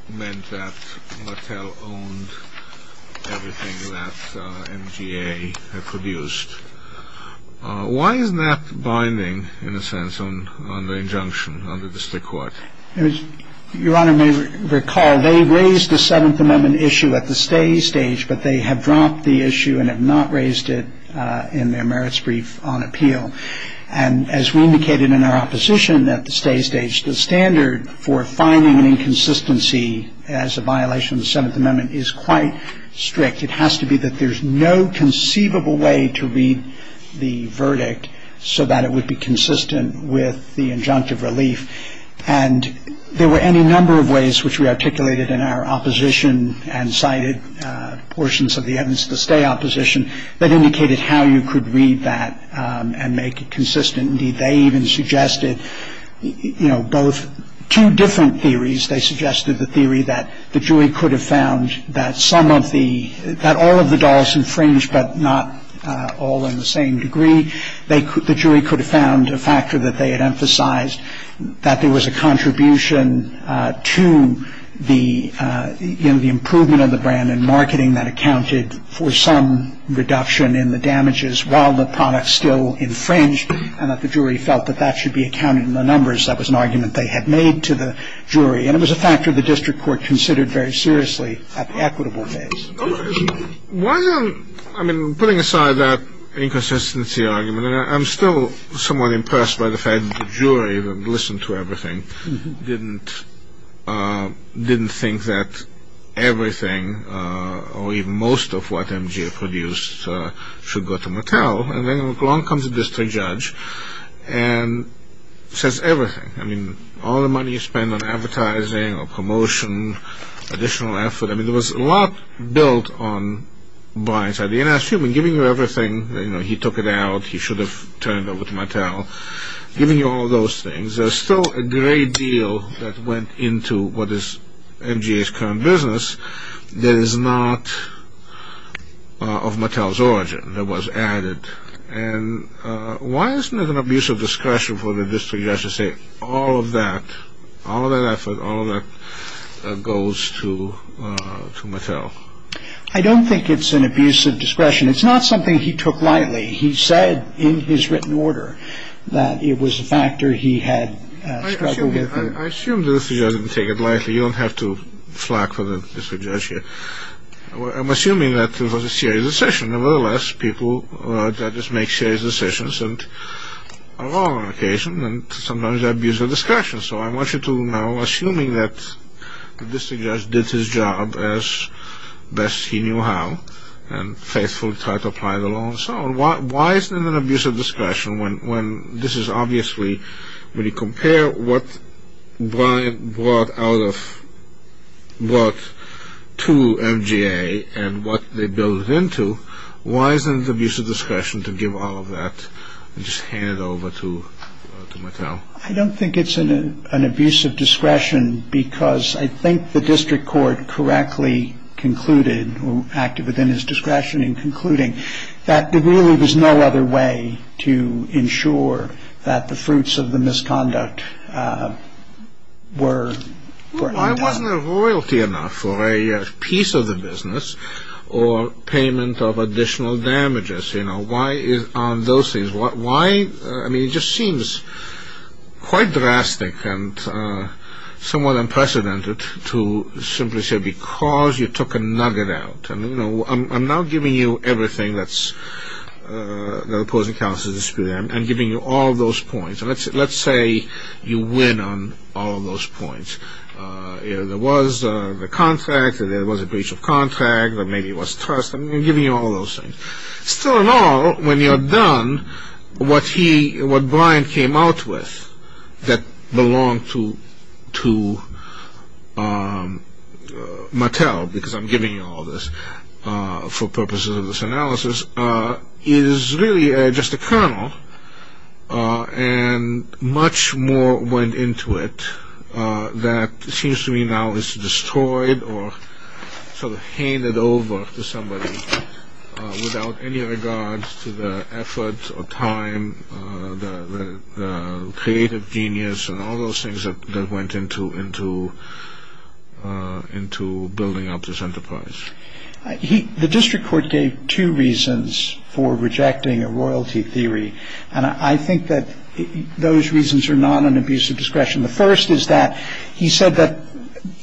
meant that Mattel owned everything that MTA had produced. Why is that binding, in a sense, on the injunction of the district court? As Your Honor may recall, they raised the Seventh Amendment issue at the stay stage, but they have dropped the issue and have not raised it in their merits brief on appeal. And as we indicated in our opposition at the stay stage, the standard for finding an inconsistency as a violation of the Seventh Amendment is quite strict. It has to be that there's no conceivable way to read the verdict so that it would be consistent with the injunctive relief. And there were any number of ways, which we articulated in our opposition and cited portions of the evidence at the stay opposition, that indicated how you could read that and make it consistent. Indeed, they even suggested, you know, both two different theories. They suggested the theory that the jury could have found that some of the... that all of the dollars infringed, but not all in the same degree. The jury could have found a factor that they had emphasized, that there was a contribution to the improvement of the brand and marketing that accounted for some reduction in the damages while the product still infringed, and that the jury felt that that should be accounted in the numbers. That was an argument they had made to the jury. And it was a factor the district court considered very seriously at the equitable phase. I mean, putting aside that inconsistency argument, I'm still somewhat impressed by the fact that the jury that listened to everything didn't think that everything or even most of what M.G.A. produced should go to Macau. And then along comes the district judge and says everything. I mean, all the money you spend on advertising or promotion, additional effort. I mean, there was a lot built on blindside. The N.S. Truman giving you everything, you know, he took it out, he should have turned it over to Macau, giving you all those things. There's still a great deal that went into what is M.G.A.'s current business that is not of Macau's origin that was added. And why isn't there an abuse of discretion for the district judge to say all of that, all of that effort, all of that goes to Macau? I don't think it's an abuse of discretion. It's not something he took lightly. He said in his written order that it was a factor he had struggled with. I assume the district judge didn't take it lightly. You don't have to flack for the district judge here. I'm assuming that it was a serious decision. Nevertheless, people, judges make serious decisions and on all occasions, and sometimes abuse of discretion. So I want you to now assume that the district judge did his job as best he knew how and faithfully tried to apply the law and so on. Why isn't there an abuse of discretion when this is obviously, when you compare what Brian brought to M.G.A. and what they built it into, why isn't it abuse of discretion to give all of that and just hand it over to Macau? I don't think it's an abuse of discretion because I think the district court correctly concluded or acted within his discretion in concluding that there really was no other way to ensure that the fruits of the misconduct were brought to Macau. Isn't there royalty enough for a piece of the business or payment of additional damages? You know, why is it on those things? Why, I mean, it just seems quite drastic and somewhat unprecedented to simply say, because you took a nugget out. I mean, you know, I'm now giving you everything that's the opposing counsel's dispute and giving you all those points. Let's say you win on all of those points. You know, there was a contract, there was a breach of contract, or maybe it was trust, I'm giving you all those things. Still in all, when you're done, what Brian came out with that belonged to Mattel, because I'm giving you all this for purposes of this analysis, is really just a kernel, and much more went into it that seems to me now is destroyed or sort of handed over to somebody without any regards to the effort or time, the creative genius, and all those things that went into building up this enterprise. The district court gave two reasons for rejecting a royalty theory, and I think that those reasons are not an abuse of discretion. The first is that he said that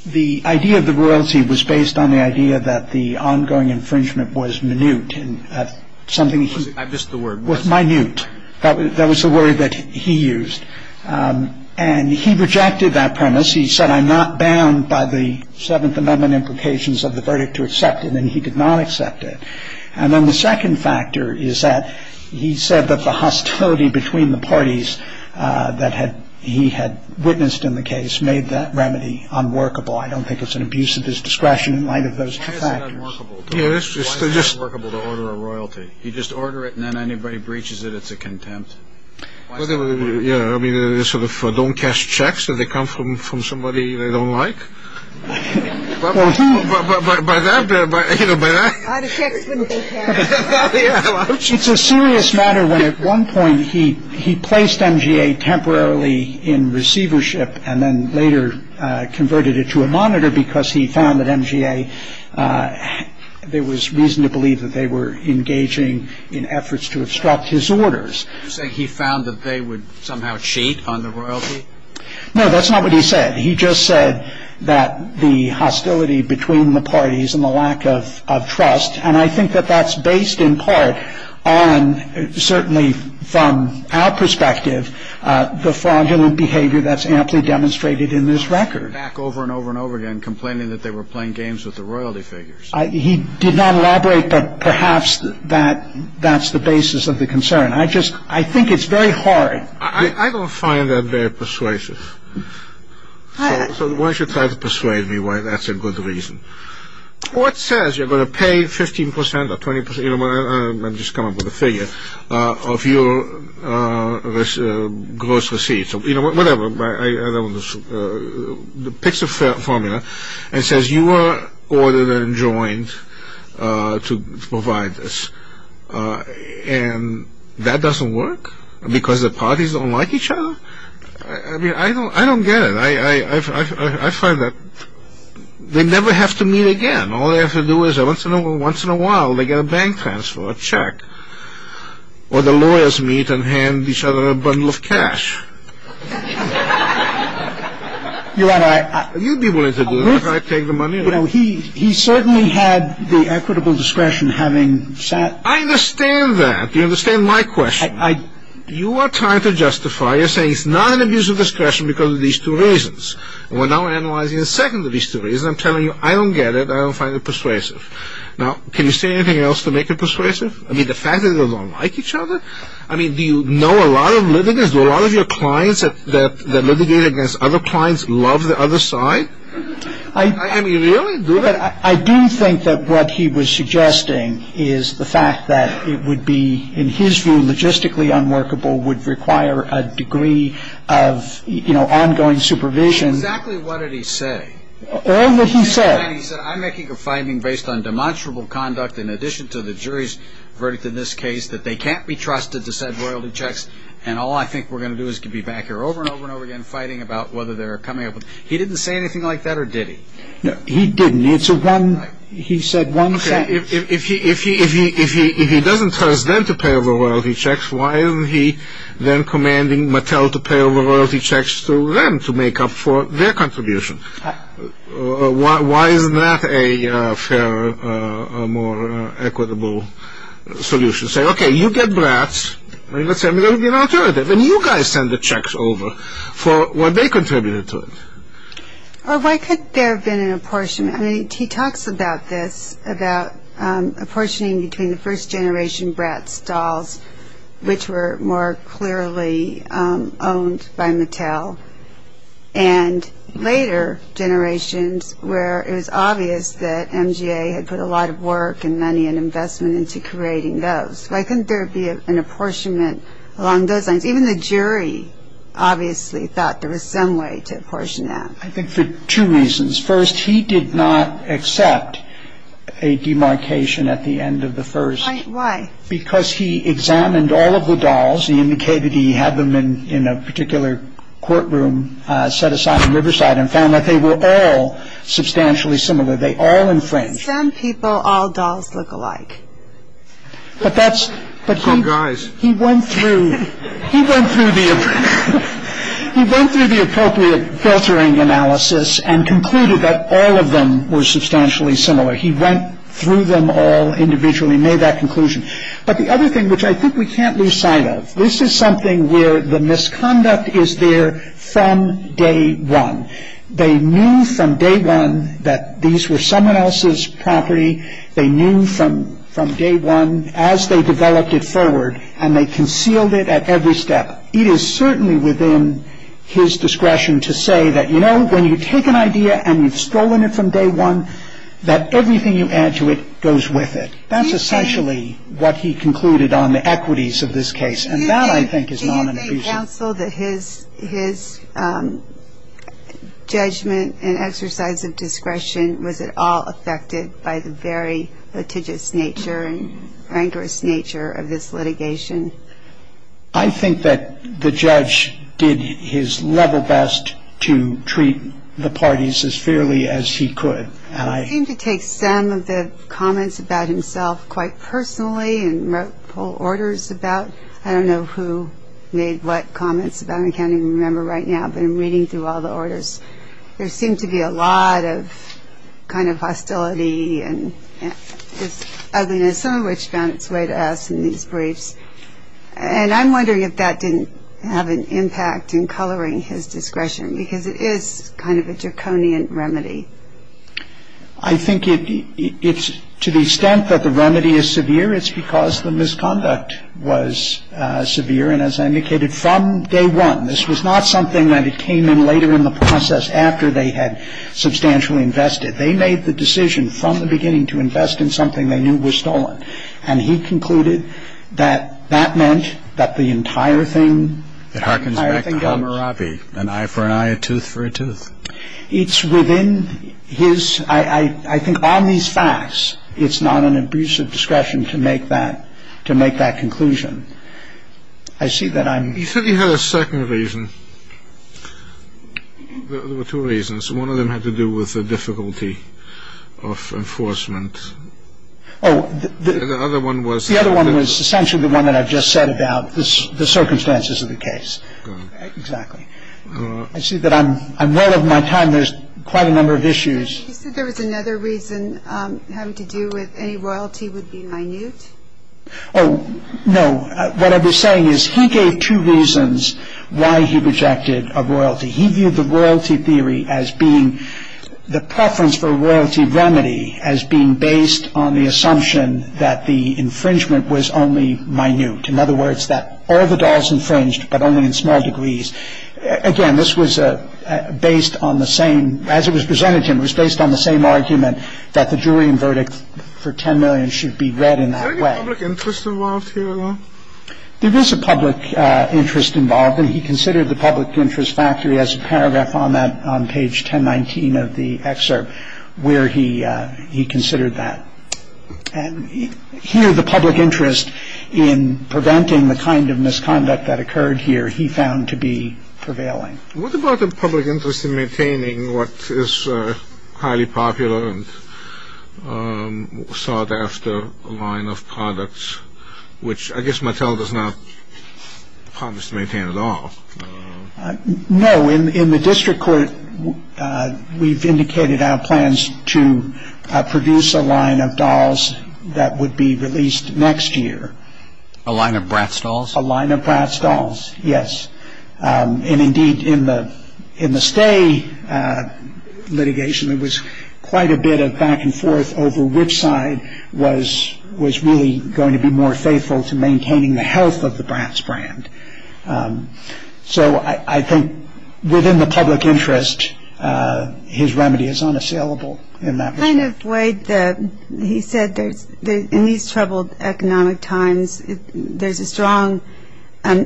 the idea of the royalty was based on the idea that the ongoing infringement was minute. I missed the word minute. That was the word that he used. And he rejected that premise. He said, I'm not bound by the Seventh Amendment implications of the verdict to accept it, and he did not accept it. And then the second factor is that he said that the hostility between the parties that he had witnessed in the case made that remedy unworkable. I don't think it's an abuse of discretion in light of those factors. Yes. It's workable to order a royalty. You just order it and then anybody breaches it. It's a contempt. I mean, sort of don't cash checks that they come from from somebody they don't like. It's a serious matter. When at one point he he placed MGA temporarily in receivership and then later converted it to a monitor because he found that MGA. There was reason to believe that they were engaging in efforts to obstruct his orders. So he found that they would somehow cheat on the royalty. No, that's not what he said. He just said that the hostility between the parties and the lack of trust. And I think that that's based in part on certainly from our perspective, the fraudulent behavior that's amply demonstrated in this record. They're back over and over and over again complaining that they were playing games with the royalty figures. He did not elaborate. Perhaps that that's the basis of the concern. I just I think it's very hard. I don't find that very persuasive. So why should try to persuade me why that's a good reason. Well, it says you're going to pay 15 percent or 20 percent. I'm just coming up with a figure of your gross receipts or whatever. The picks a formula and says you are ordered and joined to provide this. And that doesn't work because the parties don't like each other. I don't get it. I find that they never have to meet again. All they have to do is once in a while they get a bank transfer, a check, or the lawyers meet and hand each other a bundle of cash. You'd be willing to do that if I take the money. He certainly had the equitable discretion having sat. I understand that. You understand my question. You are trying to justify. You're saying it's not an abuse of discretion because of these two reasons. We're now analyzing the second of these two reasons. I'm telling you, I don't get it. I don't find it persuasive. Now, can you say anything else to make it persuasive? I mean, the fact that they don't like each other. I mean, do you know a lot of litigants? A lot of your clients that litigate against other clients love the other side. I mean, really? I do think that what he was suggesting is the fact that it would be, in his view, logistically unworkable, would require a degree of ongoing supervision. Exactly what did he say? All that he said. He said, I'm making a finding based on demonstrable conduct in addition to the jury's verdict in this case that they can't be trusted to send loyalty checks, and all I think we're going to do is to be back here over and over and over again fighting about whether they're coming up. He didn't say anything like that, or did he? No, he didn't. He said one sentence. Okay, if he doesn't tell us then to pay over loyalty checks, why isn't he then commanding Mattel to pay over loyalty checks to them to make up for their contributions? Why is that a fairer, more equitable solution? Say, okay, you get Bratz, and let's say we're going to get an alternative, and you guys send the checks over for what they contributed to it. Or why could there have been an apportionment? I mean, he talks about this, about apportioning between the first generation Bratz dolls, which were more clearly owned by Mattel, and later generations where it was obvious that MGA had put a lot of work and money and investment into creating those. So I think there would be an apportionment along those lines. Even the jury obviously thought there was some way to apportion that. I think for two reasons. First, he did not accept a demarcation at the end of the first. Why? Because he examined all of the dolls. He indicated he had them in a particular courtroom set aside in Riverside and found that they were all substantially similar. They all infringed. Some people, all dolls look alike. Oh, guys. He went through the appropriate filtering analysis and concluded that all of them were substantially similar. He went through them all individually and made that conclusion. But the other thing, which I think we can't lose sight of, this is something where the misconduct is there from day one. They knew from day one that these were someone else's property. They knew from day one as they developed it forward and they concealed it at every step. It is certainly within his discretion to say that, you know, when you take an idea and you've stolen it from day one, that everything you add to it goes with it. That's essentially what he concluded on the equities of this case. And that, I think, is not an illusion. Was it helpful that his judgment and exercise of discretion was at all affected by the very litigious nature and rancorous nature of this litigation? I think that the judge did his level best to treat the parties as fairly as he could. He seemed to take some of the comments about himself quite personally and wrote full orders about, I don't know who made what comments, I can't even remember right now, but in reading through all the orders, there seems to be a lot of kind of hostility and some of which found its way to us in these briefs. And I'm wondering if that didn't have an impact in coloring his discretion, because it is kind of a draconian remedy. I think to the extent that the remedy is severe, it's because the misconduct was severe, and as I indicated, from day one. This was not something that came in later in the process after they had substantially invested. They made the decision from the beginning to invest in something they knew was stolen. And he concluded that that meant that the entire thing... It harkens back to Hammurabi, an eye for an eye, a tooth for a tooth. It's within his... I think on these facts, it's not an abuse of discretion to make that conclusion. I see that I'm... You said you had a second reason. There were two reasons. One of them had to do with the difficulty of enforcement. The other one was... The other one was essentially the one that I just said about the circumstances of the case. Exactly. I see that I'm running out of my time. There's quite a number of issues. You said there was another reason having to do with any royalty would be minute? Oh, no. What I was saying is he gave two reasons why he rejected a royalty. He viewed the royalty theory as being... The preference for a royalty remedy as being based on the assumption that the infringement was only minute. In other words, that all the dolls infringed, but only in small degrees. Again, this was based on the same... As it was presented to him, it was based on the same argument that the jury and verdict for $10 million should be read in that way. Is there any public interest involved here at all? There is a public interest involved, and he considered the public interest factually as a paragraph on that on page 1019 of the excerpt where he considered that. And here the public interest in preventing the kind of misconduct that occurred here he found to be prevailing. What about the public interest in maintaining what is highly popular and sought after line of products, which I guess Mattel does not promise to maintain at all? No. In the district court, we've indicated our plans to produce a line of dolls that would be released next year. A line of Bratz dolls? A line of Bratz dolls, yes. And indeed, in the stay litigation, it was quite a bit of back and forth over which side was really going to be more faithful to maintaining the health of the Bratz brand. So I think within the public interest, his remedy is unassailable in that respect. Kind of weighed, he said in these troubled economic times, there's a strong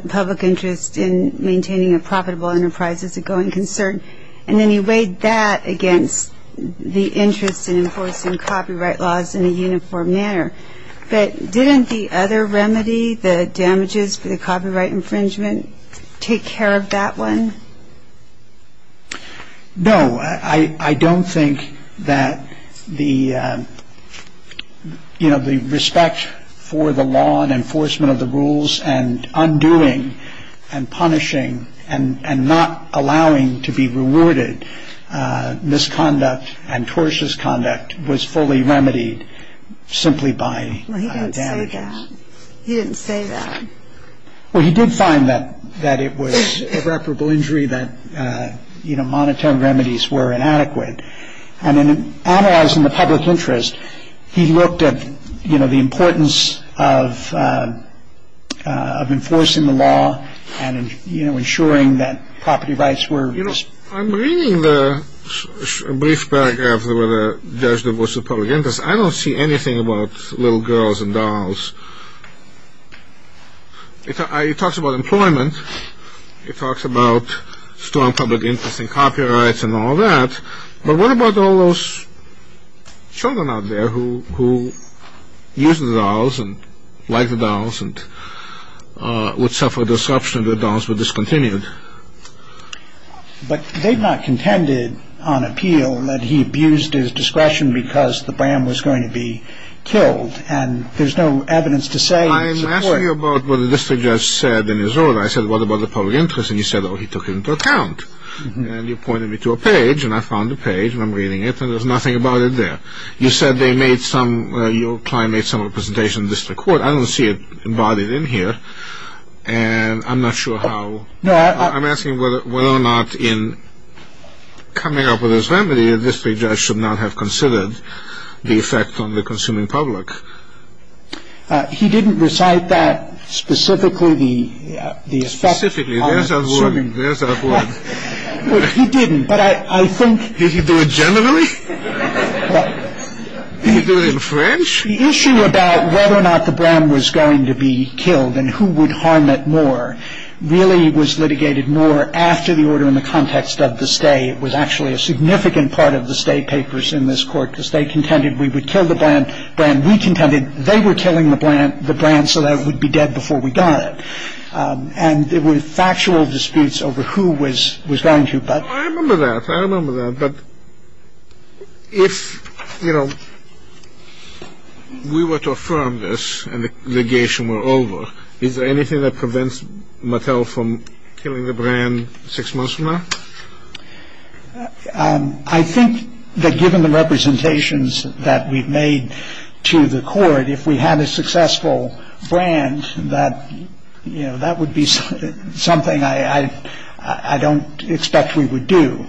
public interest in maintaining a profitable enterprise as a going concern. And then he weighed that against the interest in enforcing copyright laws in a uniform manner. And then he weighed that against the interest in enforcing copyright laws in a uniform manner. But didn't the other remedy, the damages for the copyright infringement, take care of that one? No. I don't think that the respect for the law and enforcement of the rules and undoing and punishing and not allowing to be rewarded misconduct and tortious conduct was fully remedied simply by damages. He didn't say that. Well, he did find that it was an irreparable injury that monetary remedies were inadequate. And in analyzing the public interest, he looked at the importance of enforcing the law and ensuring that property rights were. You know, I'm reading the brief paragraph where the judge divorced the public interest. I don't see anything about little girls and dolls. It talks about employment. It talks about strong public interest in copyrights and all that. But what about all those children out there who used the dolls and liked the dolls and would suffer disruption if the dolls were discontinued? But they've not contended on appeal that he abused his discretion because the BAM was going to be killed. And there's no evidence to say. I'm asking you about what the district judge said in his order. I said, what about the public interest? And he said, oh, he took it into account. And you pointed me to a page, and I found the page, and I'm reading it, and there's nothing about it there. You said they made some – your client made some representation in the district court. I don't see it embodied in here. And I'm not sure how – I'm asking whether or not in coming up with this remedy, the district judge should not have considered the effect on the consuming public. He didn't recite that specifically, the – Well, he didn't, but I think – Did he do it generally? Did he do it in French? The issue about whether or not the BAM was going to be killed and who would harm it more really was litigated more after the order in the context of the stay. It was actually a significant part of the stay papers in this court. The stay contended we would kill the BAM. BAM recontended they were killing the BAM so that it would be dead before we got it. And there were factual disputes over who was going to – I remember that. I remember that. But if, you know, we were to affirm this and the litigation were over, is there anything that prevents Mattel from killing the BAM six months from now? I think that given the representations that we've made to the court, if we had a successful brand that, you know, that would be something I don't expect we would do.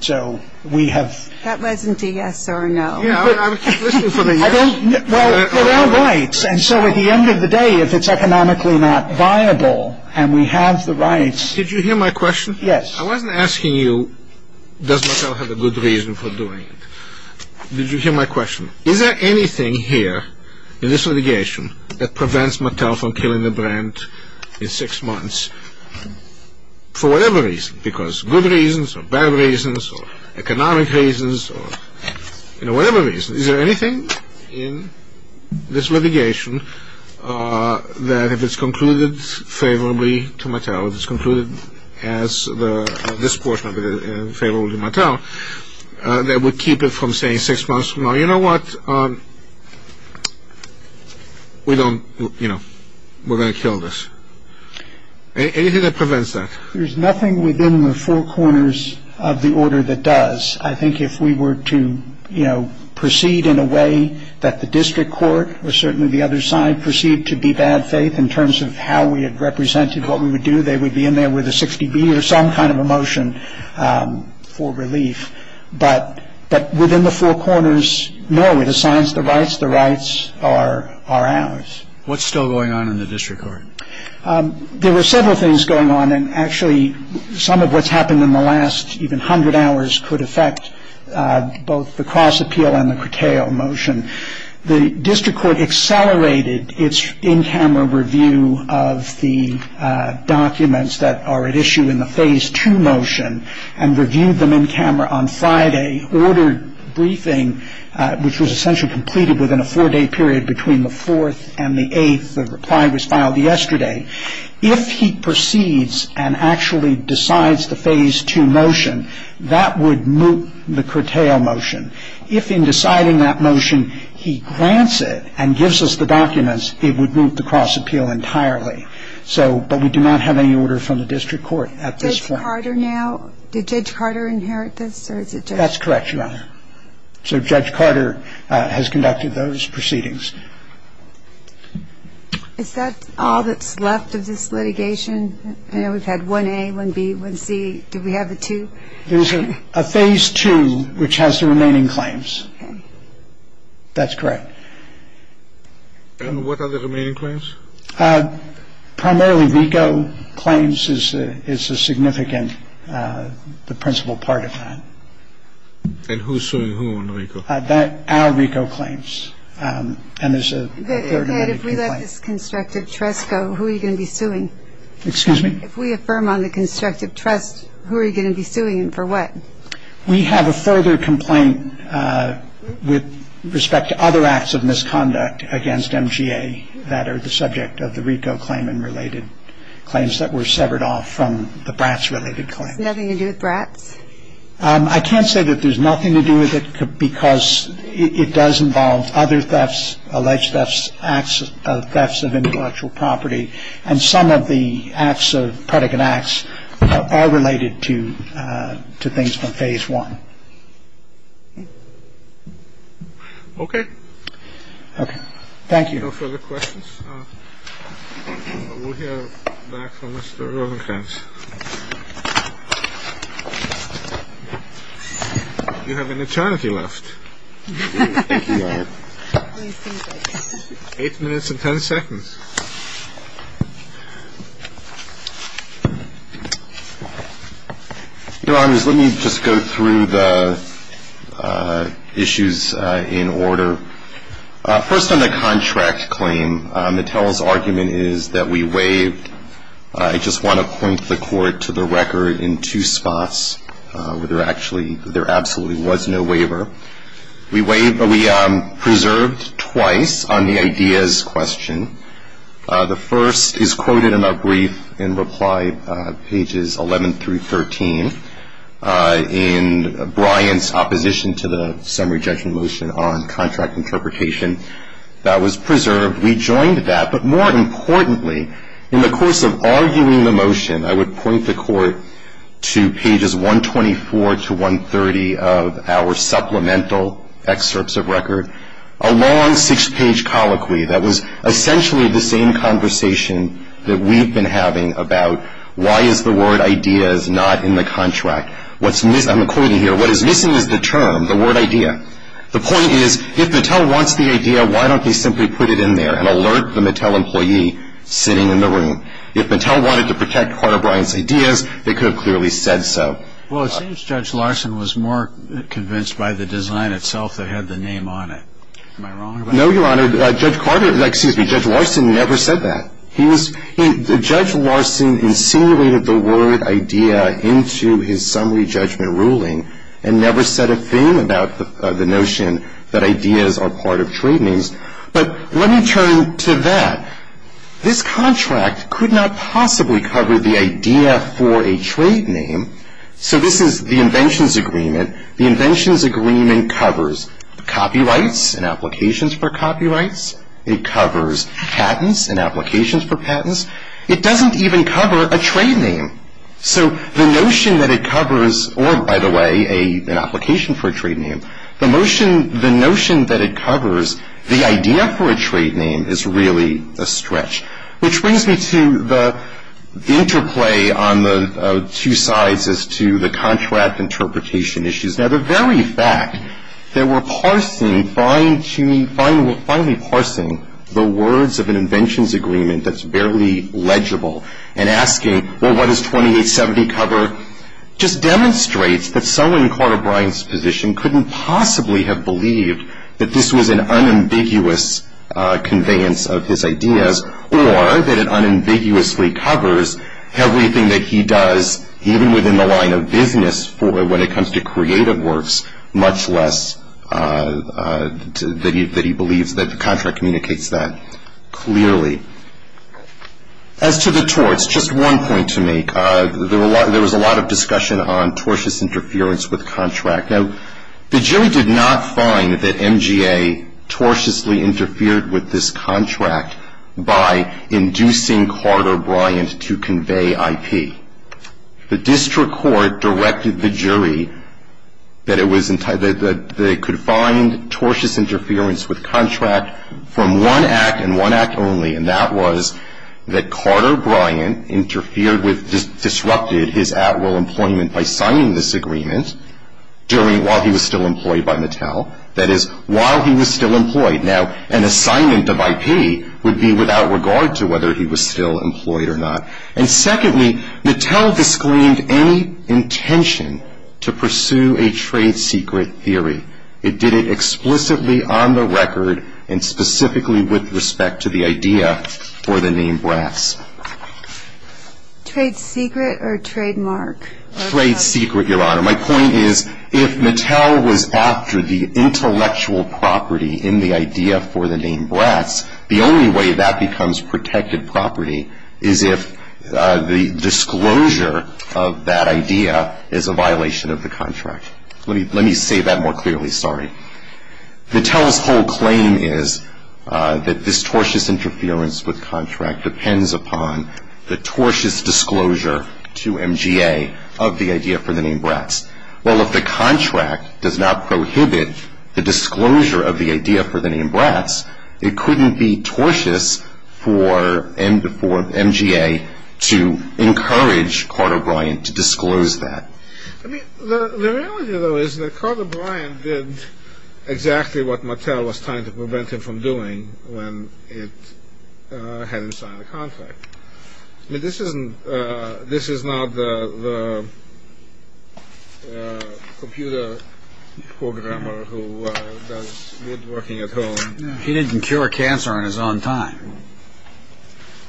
So we have – That wasn't a yes or a no. Yeah, but I was thinking something else. Well, there are rights. And so at the end of the day, if it's economically not viable and we have the rights – Did you hear my question? Yes. I wasn't asking you does Mattel have a good reason for doing it. Did you hear my question? Is there anything here in this litigation that prevents Mattel from killing the brand in six months for whatever reason? Because good reasons or bad reasons or economic reasons or, you know, whatever reason. Is there anything in this litigation that if it's concluded favorably to Mattel, if it's concluded as this portion of it is favorable to Mattel, that would keep it from saying six months from now, you know what, we don't, you know, we're going to kill this. Anything that prevents that? There's nothing within the four corners of the order that does. I think if we were to, you know, proceed in a way that the district court or certainly the other side proceed to be bad faith in terms of how we have represented what we would do, they would be in there with a 60B or some kind of a motion for relief. But within the four corners, no, it assigns the rights. The rights are ours. What's still going on in the district court? There were several things going on, and actually some of what's happened in the last even hundred hours could affect both the cross-appeal and the curtail motion. The district court accelerated its in-camera review of the documents that are at issue in the Phase 2 motion and reviewed them in camera on Friday, ordered briefing, which was essentially completed within a four-day period between the 4th and the 8th. The reply was filed yesterday. If he proceeds and actually decides the Phase 2 motion, that would move the curtail motion. If in deciding that motion he grants it and gives us the documents, it would move the cross-appeal entirely. But we do not have any order from the district court at this point. Did Judge Carter inherit this? That's correct, Your Honor. So Judge Carter has conducted those proceedings. Is that all that's left of this litigation? I know we've had 1A, 1B, 1C. Do we have a 2? There's a Phase 2, which has the remaining claims. That's correct. And what are the remaining claims? Primarily RICO claims is a significant, the principal part of that. And who's suing who in RICO? Our RICO claims. If we let this constructive trust go, who are you going to be suing? Excuse me? If we affirm on the constructive trust, who are you going to be suing and for what? We have a further complaint with respect to other acts of misconduct against MGA that are the subject of the RICO claim and related claims that were severed off from the Bratz-related claim. Nothing to do with Bratz? I can't say that there's nothing to do with it because it does involve other thefts, alleged thefts, acts of intellectual property, and some of the acts of predicate acts are related to things from Phase 1. Okay. Thank you. No further questions? We'll hear back from Mr. Rosenkranz. You have an eternity left. Eight minutes and ten seconds. Your Honors, let me just go through the issues in order. First on the contract claim, Mattel's argument is that we waived. I just want to point the Court to the record in two spots where there absolutely was no waiver. We preserved twice on the ideas question. The first is quoted in our brief in reply pages 11 through 13. In Bryant's opposition to the summary judgment motion on contract interpretation, that was preserved. We joined that, but more importantly, in the course of arguing the motion, I would point the Court to pages 124 to 130 of our supplemental excerpts of record, a long six-page colloquy that was essentially the same conversation that we've been having about why is the word ideas not in the contract. I'm quoting here, what is missing is the term, the word idea. The point is, if Mattel wants the idea, why don't we simply put it in there and alert the Mattel employee sitting in the room. If Mattel wanted to protect Carter Bryant's ideas, they could have clearly said so. Well, it seems Judge Larson was more convinced by the design itself that had the name on it. Am I wrong about that? No, Your Honor. Judge Carter, excuse me, Judge Larson never said that. Judge Larson insinuated the word idea into his summary judgment ruling and never said a thing about the notion that ideas are part of trade names. But let me turn to that. This contract could not possibly cover the idea for a trade name. So this is the inventions agreement. The inventions agreement covers copyrights and applications for copyrights. It covers patents and applications for patents. It doesn't even cover a trade name. So the notion that it covers, or by the way, an application for a trade name, the notion that it covers the idea for a trade name is really a stretch, which brings me to the interplay on the two sides as to the contract interpretation issues. Now, the very fact that we're finally parsing the words of an inventions agreement that's barely legible and asking, well, what does 2870 cover, just demonstrates that someone in Carter Bryant's position couldn't possibly have believed that this was an unambiguous conveyance of his ideas or that it unambiguously covers everything that he does, even within the line of business for when it comes to creative works, much less that he believes that the contract communicates that clearly. As to the torts, just one point to make. There was a lot of discussion on tortious interference with contract. Now, the jury did not find that MGA tortiously interfered with this contract by inducing Carter Bryant to convey IP. The district court directed the jury that it could find tortious interference with contract from one act and one act only, and that was that Carter Bryant disrupted his at-will employment by signing this agreement while he was still employed by Mattel. That is, while he was still employed. Now, an assignment of IP would be without regard to whether he was still employed or not. And secondly, Mattel disclaimed any intention to pursue a trade secret theory. It did it explicitly on the record and specifically with respect to the idea for the name Bratz. Trade secret or trademark? Trade secret, Your Honor. My point is if Mattel was after the intellectual property in the idea for the name Bratz, the only way that becomes protected property is if the disclosure of that idea is a violation of the contract. Let me say that more clearly, sorry. The telephone claim is that this tortious interference with contract depends upon the tortious disclosure to MGA of the idea for the name Bratz. Well, if the contract does not prohibit the disclosure of the idea for the name Bratz, it couldn't be tortious for MGA to encourage Carter Bryant to disclose that. I mean, the reality, though, is that Carter Bryant did exactly what Mattel was trying to prevent him from doing when it hadn't signed the contract. But this isn't this is not the computer programmer who was working at home. He didn't cure cancer on his own time.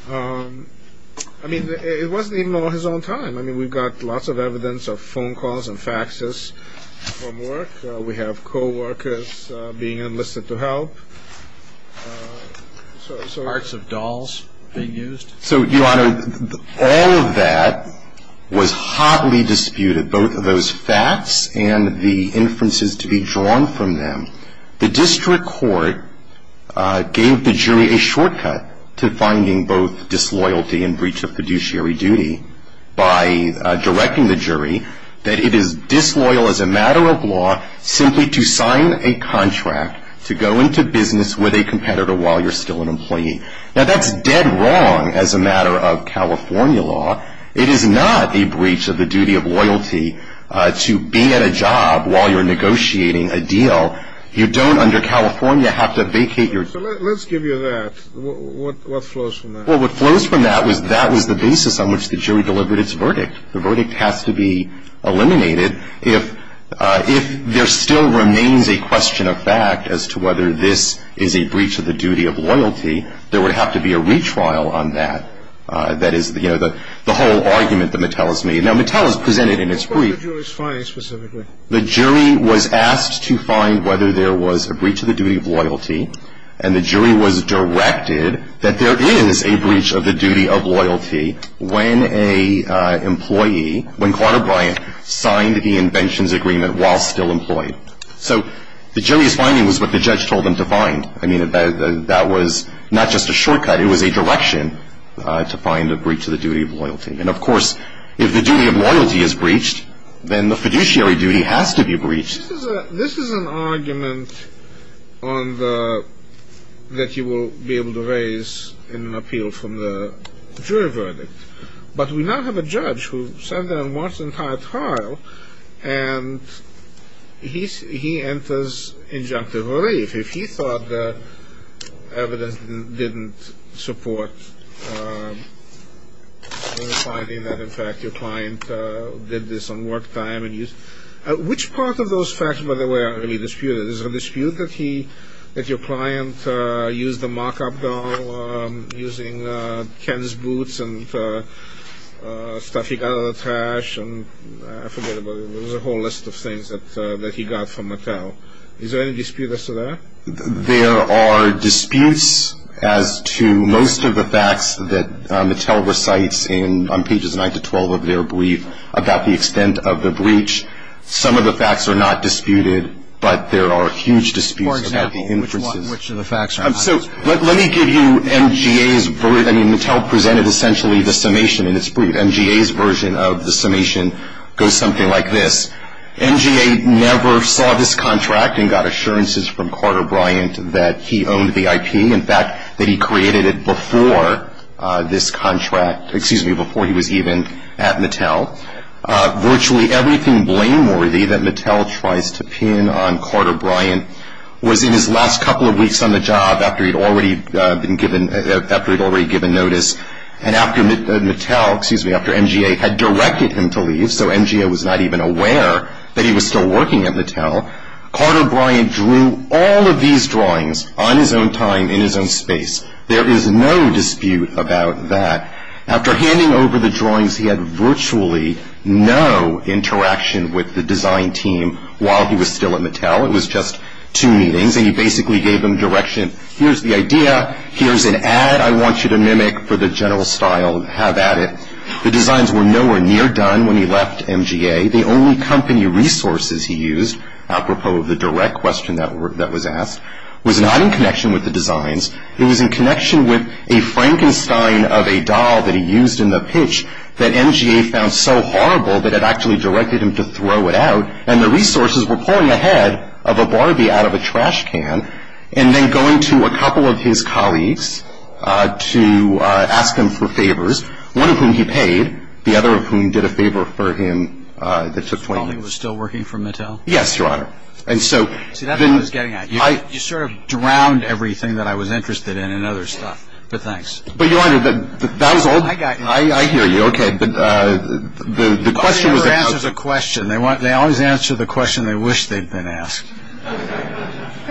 I mean, it wasn't even on his own time. I mean, we've got lots of evidence of phone calls and faxes from work. We have co-workers being enlisted to help. Parts of dolls they used. So, Your Honor, all of that was hotly disputed, both of those facts and the inferences to be drawn from them. The district court gave the jury a shortcut to finding both disloyalty and breach of fiduciary duty by directing the jury that it is disloyal as a matter of law simply to sign a contract to go into business with a competitor while you're still an employee. Now, that's dead wrong as a matter of California law. It is not a breach of the duty of loyalty to be at a job while you're negotiating a deal. You don't under California have to vacate your. So let's give you that. What flows from that? Well, what flows from that was that was the basis on which the jury delivered its verdict. The verdict has to be eliminated. If there still remains a question of fact as to whether this is a breach of the duty of loyalty, there would have to be a retrial on that. That is, you know, the whole argument that Metellus made. Now, Metellus presented in his brief. What was the jury's finding specifically? The jury was asked to find whether there was a breach of the duty of loyalty, and the jury was directed that there is a breach of the duty of loyalty when a employee, when Carter Bryant, signed the inventions agreement while still employed. So the jury's finding was what the judge told them to find. I mean, that was not just a shortcut. It was a direction to find a breach of the duty of loyalty. And, of course, if the duty of loyalty is breached, then the fiduciary duty has to be breached. This is an argument that you will be able to raise in an appeal from the jury verdict. But we now have a judge who sat there and watched the entire trial, and he enters injunctive relief. He thought that evidence didn't support the finding that, in fact, your client did this on work time. Which part of those facts, by the way, are you disputing? Is it a dispute that your client used the mock-up doll using Ken's boots and stuff he got out of the trash? I forget about it. There was a whole list of things that he got from Metellus. So is there any dispute as to that? There are disputes as to most of the facts that Metellus recites on pages 9 to 12 of their brief about the extent of the breach. Some of the facts are not disputed, but there are huge disputes about the inferences. For example, which of the facts are not disputed? So let me give you MGA's version. I mean, Metellus presented essentially the summation in his brief. MGA's version of the summation goes something like this. MGA never saw this contract and got assurances from Carter Bryant that he owned the IT. In fact, that he created it before this contract, excuse me, before he was even at Metellus. Virtually everything blameworthy that Metellus tries to pin on Carter Bryant was in his last couple of weeks on the job after he'd already been given notice. And after MGA had directed him to leave, so MGA was not even aware that he was still working at Metellus, Carter Bryant drew all of these drawings on his own time in his own space. There is no dispute about that. After handing over the drawings, he had virtually no interaction with the design team while he was still at Metellus. It was just two meetings, and he basically gave them direction. Here's the idea. Here's an ad I want you to mimic for the general style. Have at it. The designs were nowhere near done when he left MGA. The only company resources he used, apropos of the direct question that was asked, was not in connection with the designs. It was in connection with a Frankenstein of a doll that he used in the pitch that MGA found so horrible that it actually directed him to throw it out, and the resources were pulling ahead of a Barbie out of a trash can, and then going to a couple of his colleagues to ask them for favors, one of whom he paid, the other of whom did a favor for him that took 20 minutes. Something was still working for Metellus? Yes, Your Honor. See, that's what I was getting at. You sort of drowned everything that I was interested in in other stuff, but thanks. I hear you. Okay. The question was- They always answer the question they wish they'd been asked.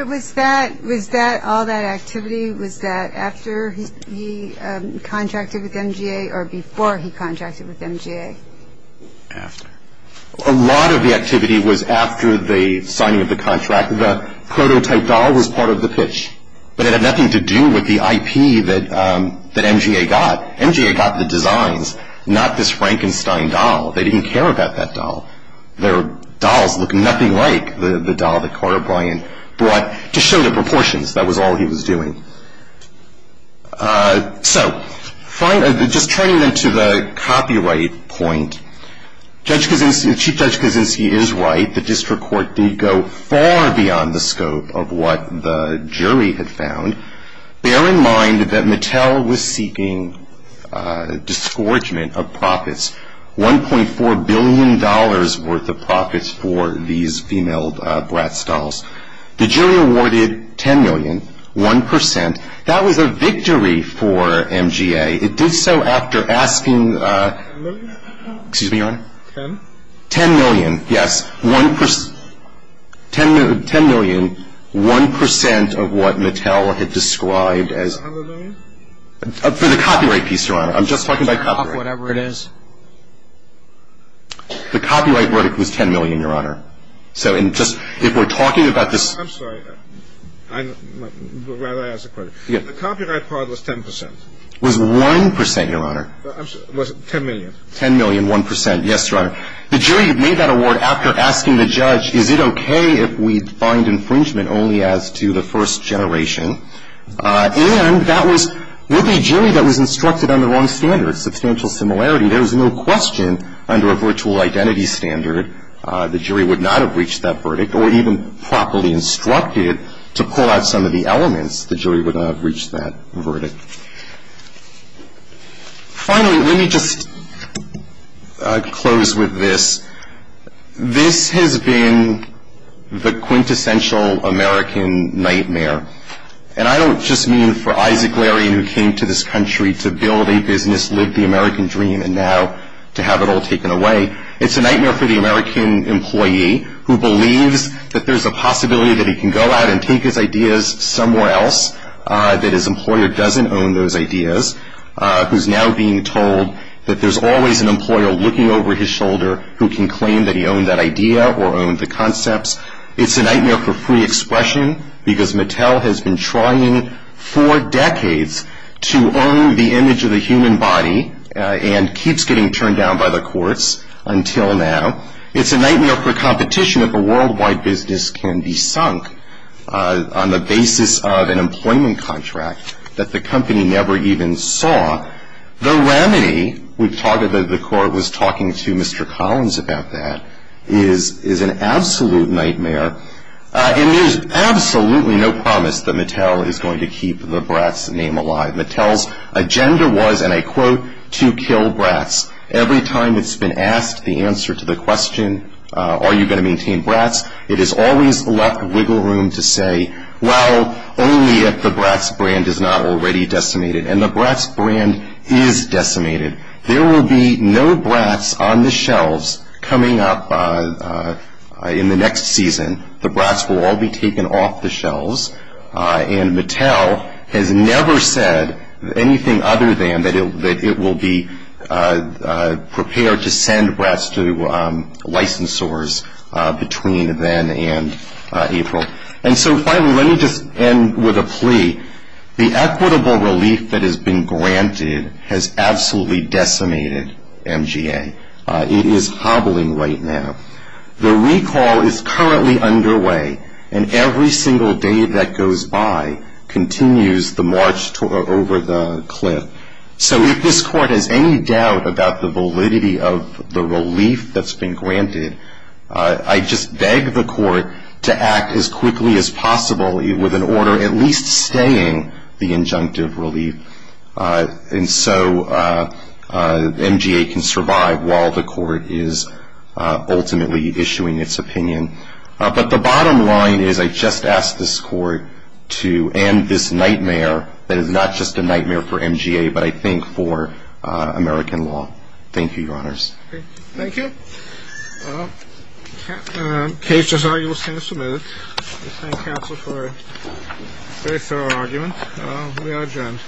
Was all that activity, was that after he contracted with MGA or before he contracted with MGA? After. A lot of the activity was after the signing of the contract. The prototype doll was part of the pitch, but it had nothing to do with the IP that MGA got. MGA got the designs, not this Frankenstein doll. They didn't care about that doll. Their dolls looked nothing like the doll that Carter Bryant brought to show the proportions. That was all he was doing. So, just turning to the copyright point, Chief Judge Kavinsky is right. The district court didn't go far beyond the scope of what the jury had found. Bear in mind that Mattel was seeking disgorgement of profits, $1.4 billion worth of profits for these female glass dolls. The jury awarded $10 million, 1%. That was a victory for MGA. It did so after asking- $10 million? Excuse me, Your Honor. $10? $10 million, yes. $10 million, 1% of what Mattel had described as- $100 million? For the copyright piece, Your Honor. I'm just talking about copyright. Whatever it is. The copyright right was $10 million, Your Honor. So, if we're talking about this- I'm sorry. I'd rather ask the question. The copyright part was 10%. It was 1%, Your Honor. It was $10 million. $10 million, 1%, yes, Your Honor. The jury made that award after asking the judge, is it okay if we find infringement only as to the first generation? And that was with a jury that was instructed under wrong standards, substantial similarity. There was no question under a virtual identity standard the jury would not have reached that verdict, or even properly instructed to pull out some of the elements, the jury would not have reached that verdict. Finally, let me just close with this. This has been the quintessential American nightmare. And I don't just mean for Isaac Larry, who came to this country to build a business, live the American dream, and now to have it all taken away. It's a nightmare for the American employee who believes that there's a possibility that he can go out and take his ideas somewhere else, that his employer doesn't own those ideas, who's now being told that there's always an employer looking over his shoulder who can claim that he owned that idea or owned the concepts. It's a nightmare for free expression because Mattel has been trying for decades to own the image of the human body and keeps getting turned down by the courts until now. It's a nightmare for competition if a worldwide business can be sunk on the basis of an employment contract that the company never even saw. The remedy, as the court was talking to Mr. Collins about that, is an absolute nightmare. It is absolutely no promise that Mattel is going to keep the Bratz name alive. Mattel's agenda was, and I quote, to kill Bratz. Every time it's been asked the answer to the question, are you going to maintain Bratz, it has always left wiggle room to say, well, only if the Bratz brand is not already decimated. And the Bratz brand is decimated. There will be no Bratz on the shelves coming up in the next season. The Bratz will all be taken off the shelves. And Mattel has never said anything other than that it will be prepared to send Bratz to licensors between then and April. And so, finally, let me just end with a plea. The equitable relief that has been granted has absolutely decimated MGA. It is hobbling right now. The recall is currently underway, and every single day that goes by continues the march over the cliff. So if this court has any doubt about the validity of the relief that's been granted, I just beg the court to act as quickly as possible with an order at least staying the injunctive relief. And so MGA can survive while the court is ultimately issuing its opinion. But the bottom line is I just ask this court to end this nightmare that is not just a nightmare for MGA, but I think for American law. Thank you, Your Honors. Thank you. Well, the case is arguably submitted. I thank counsel for a very thorough argument. We are adjourned.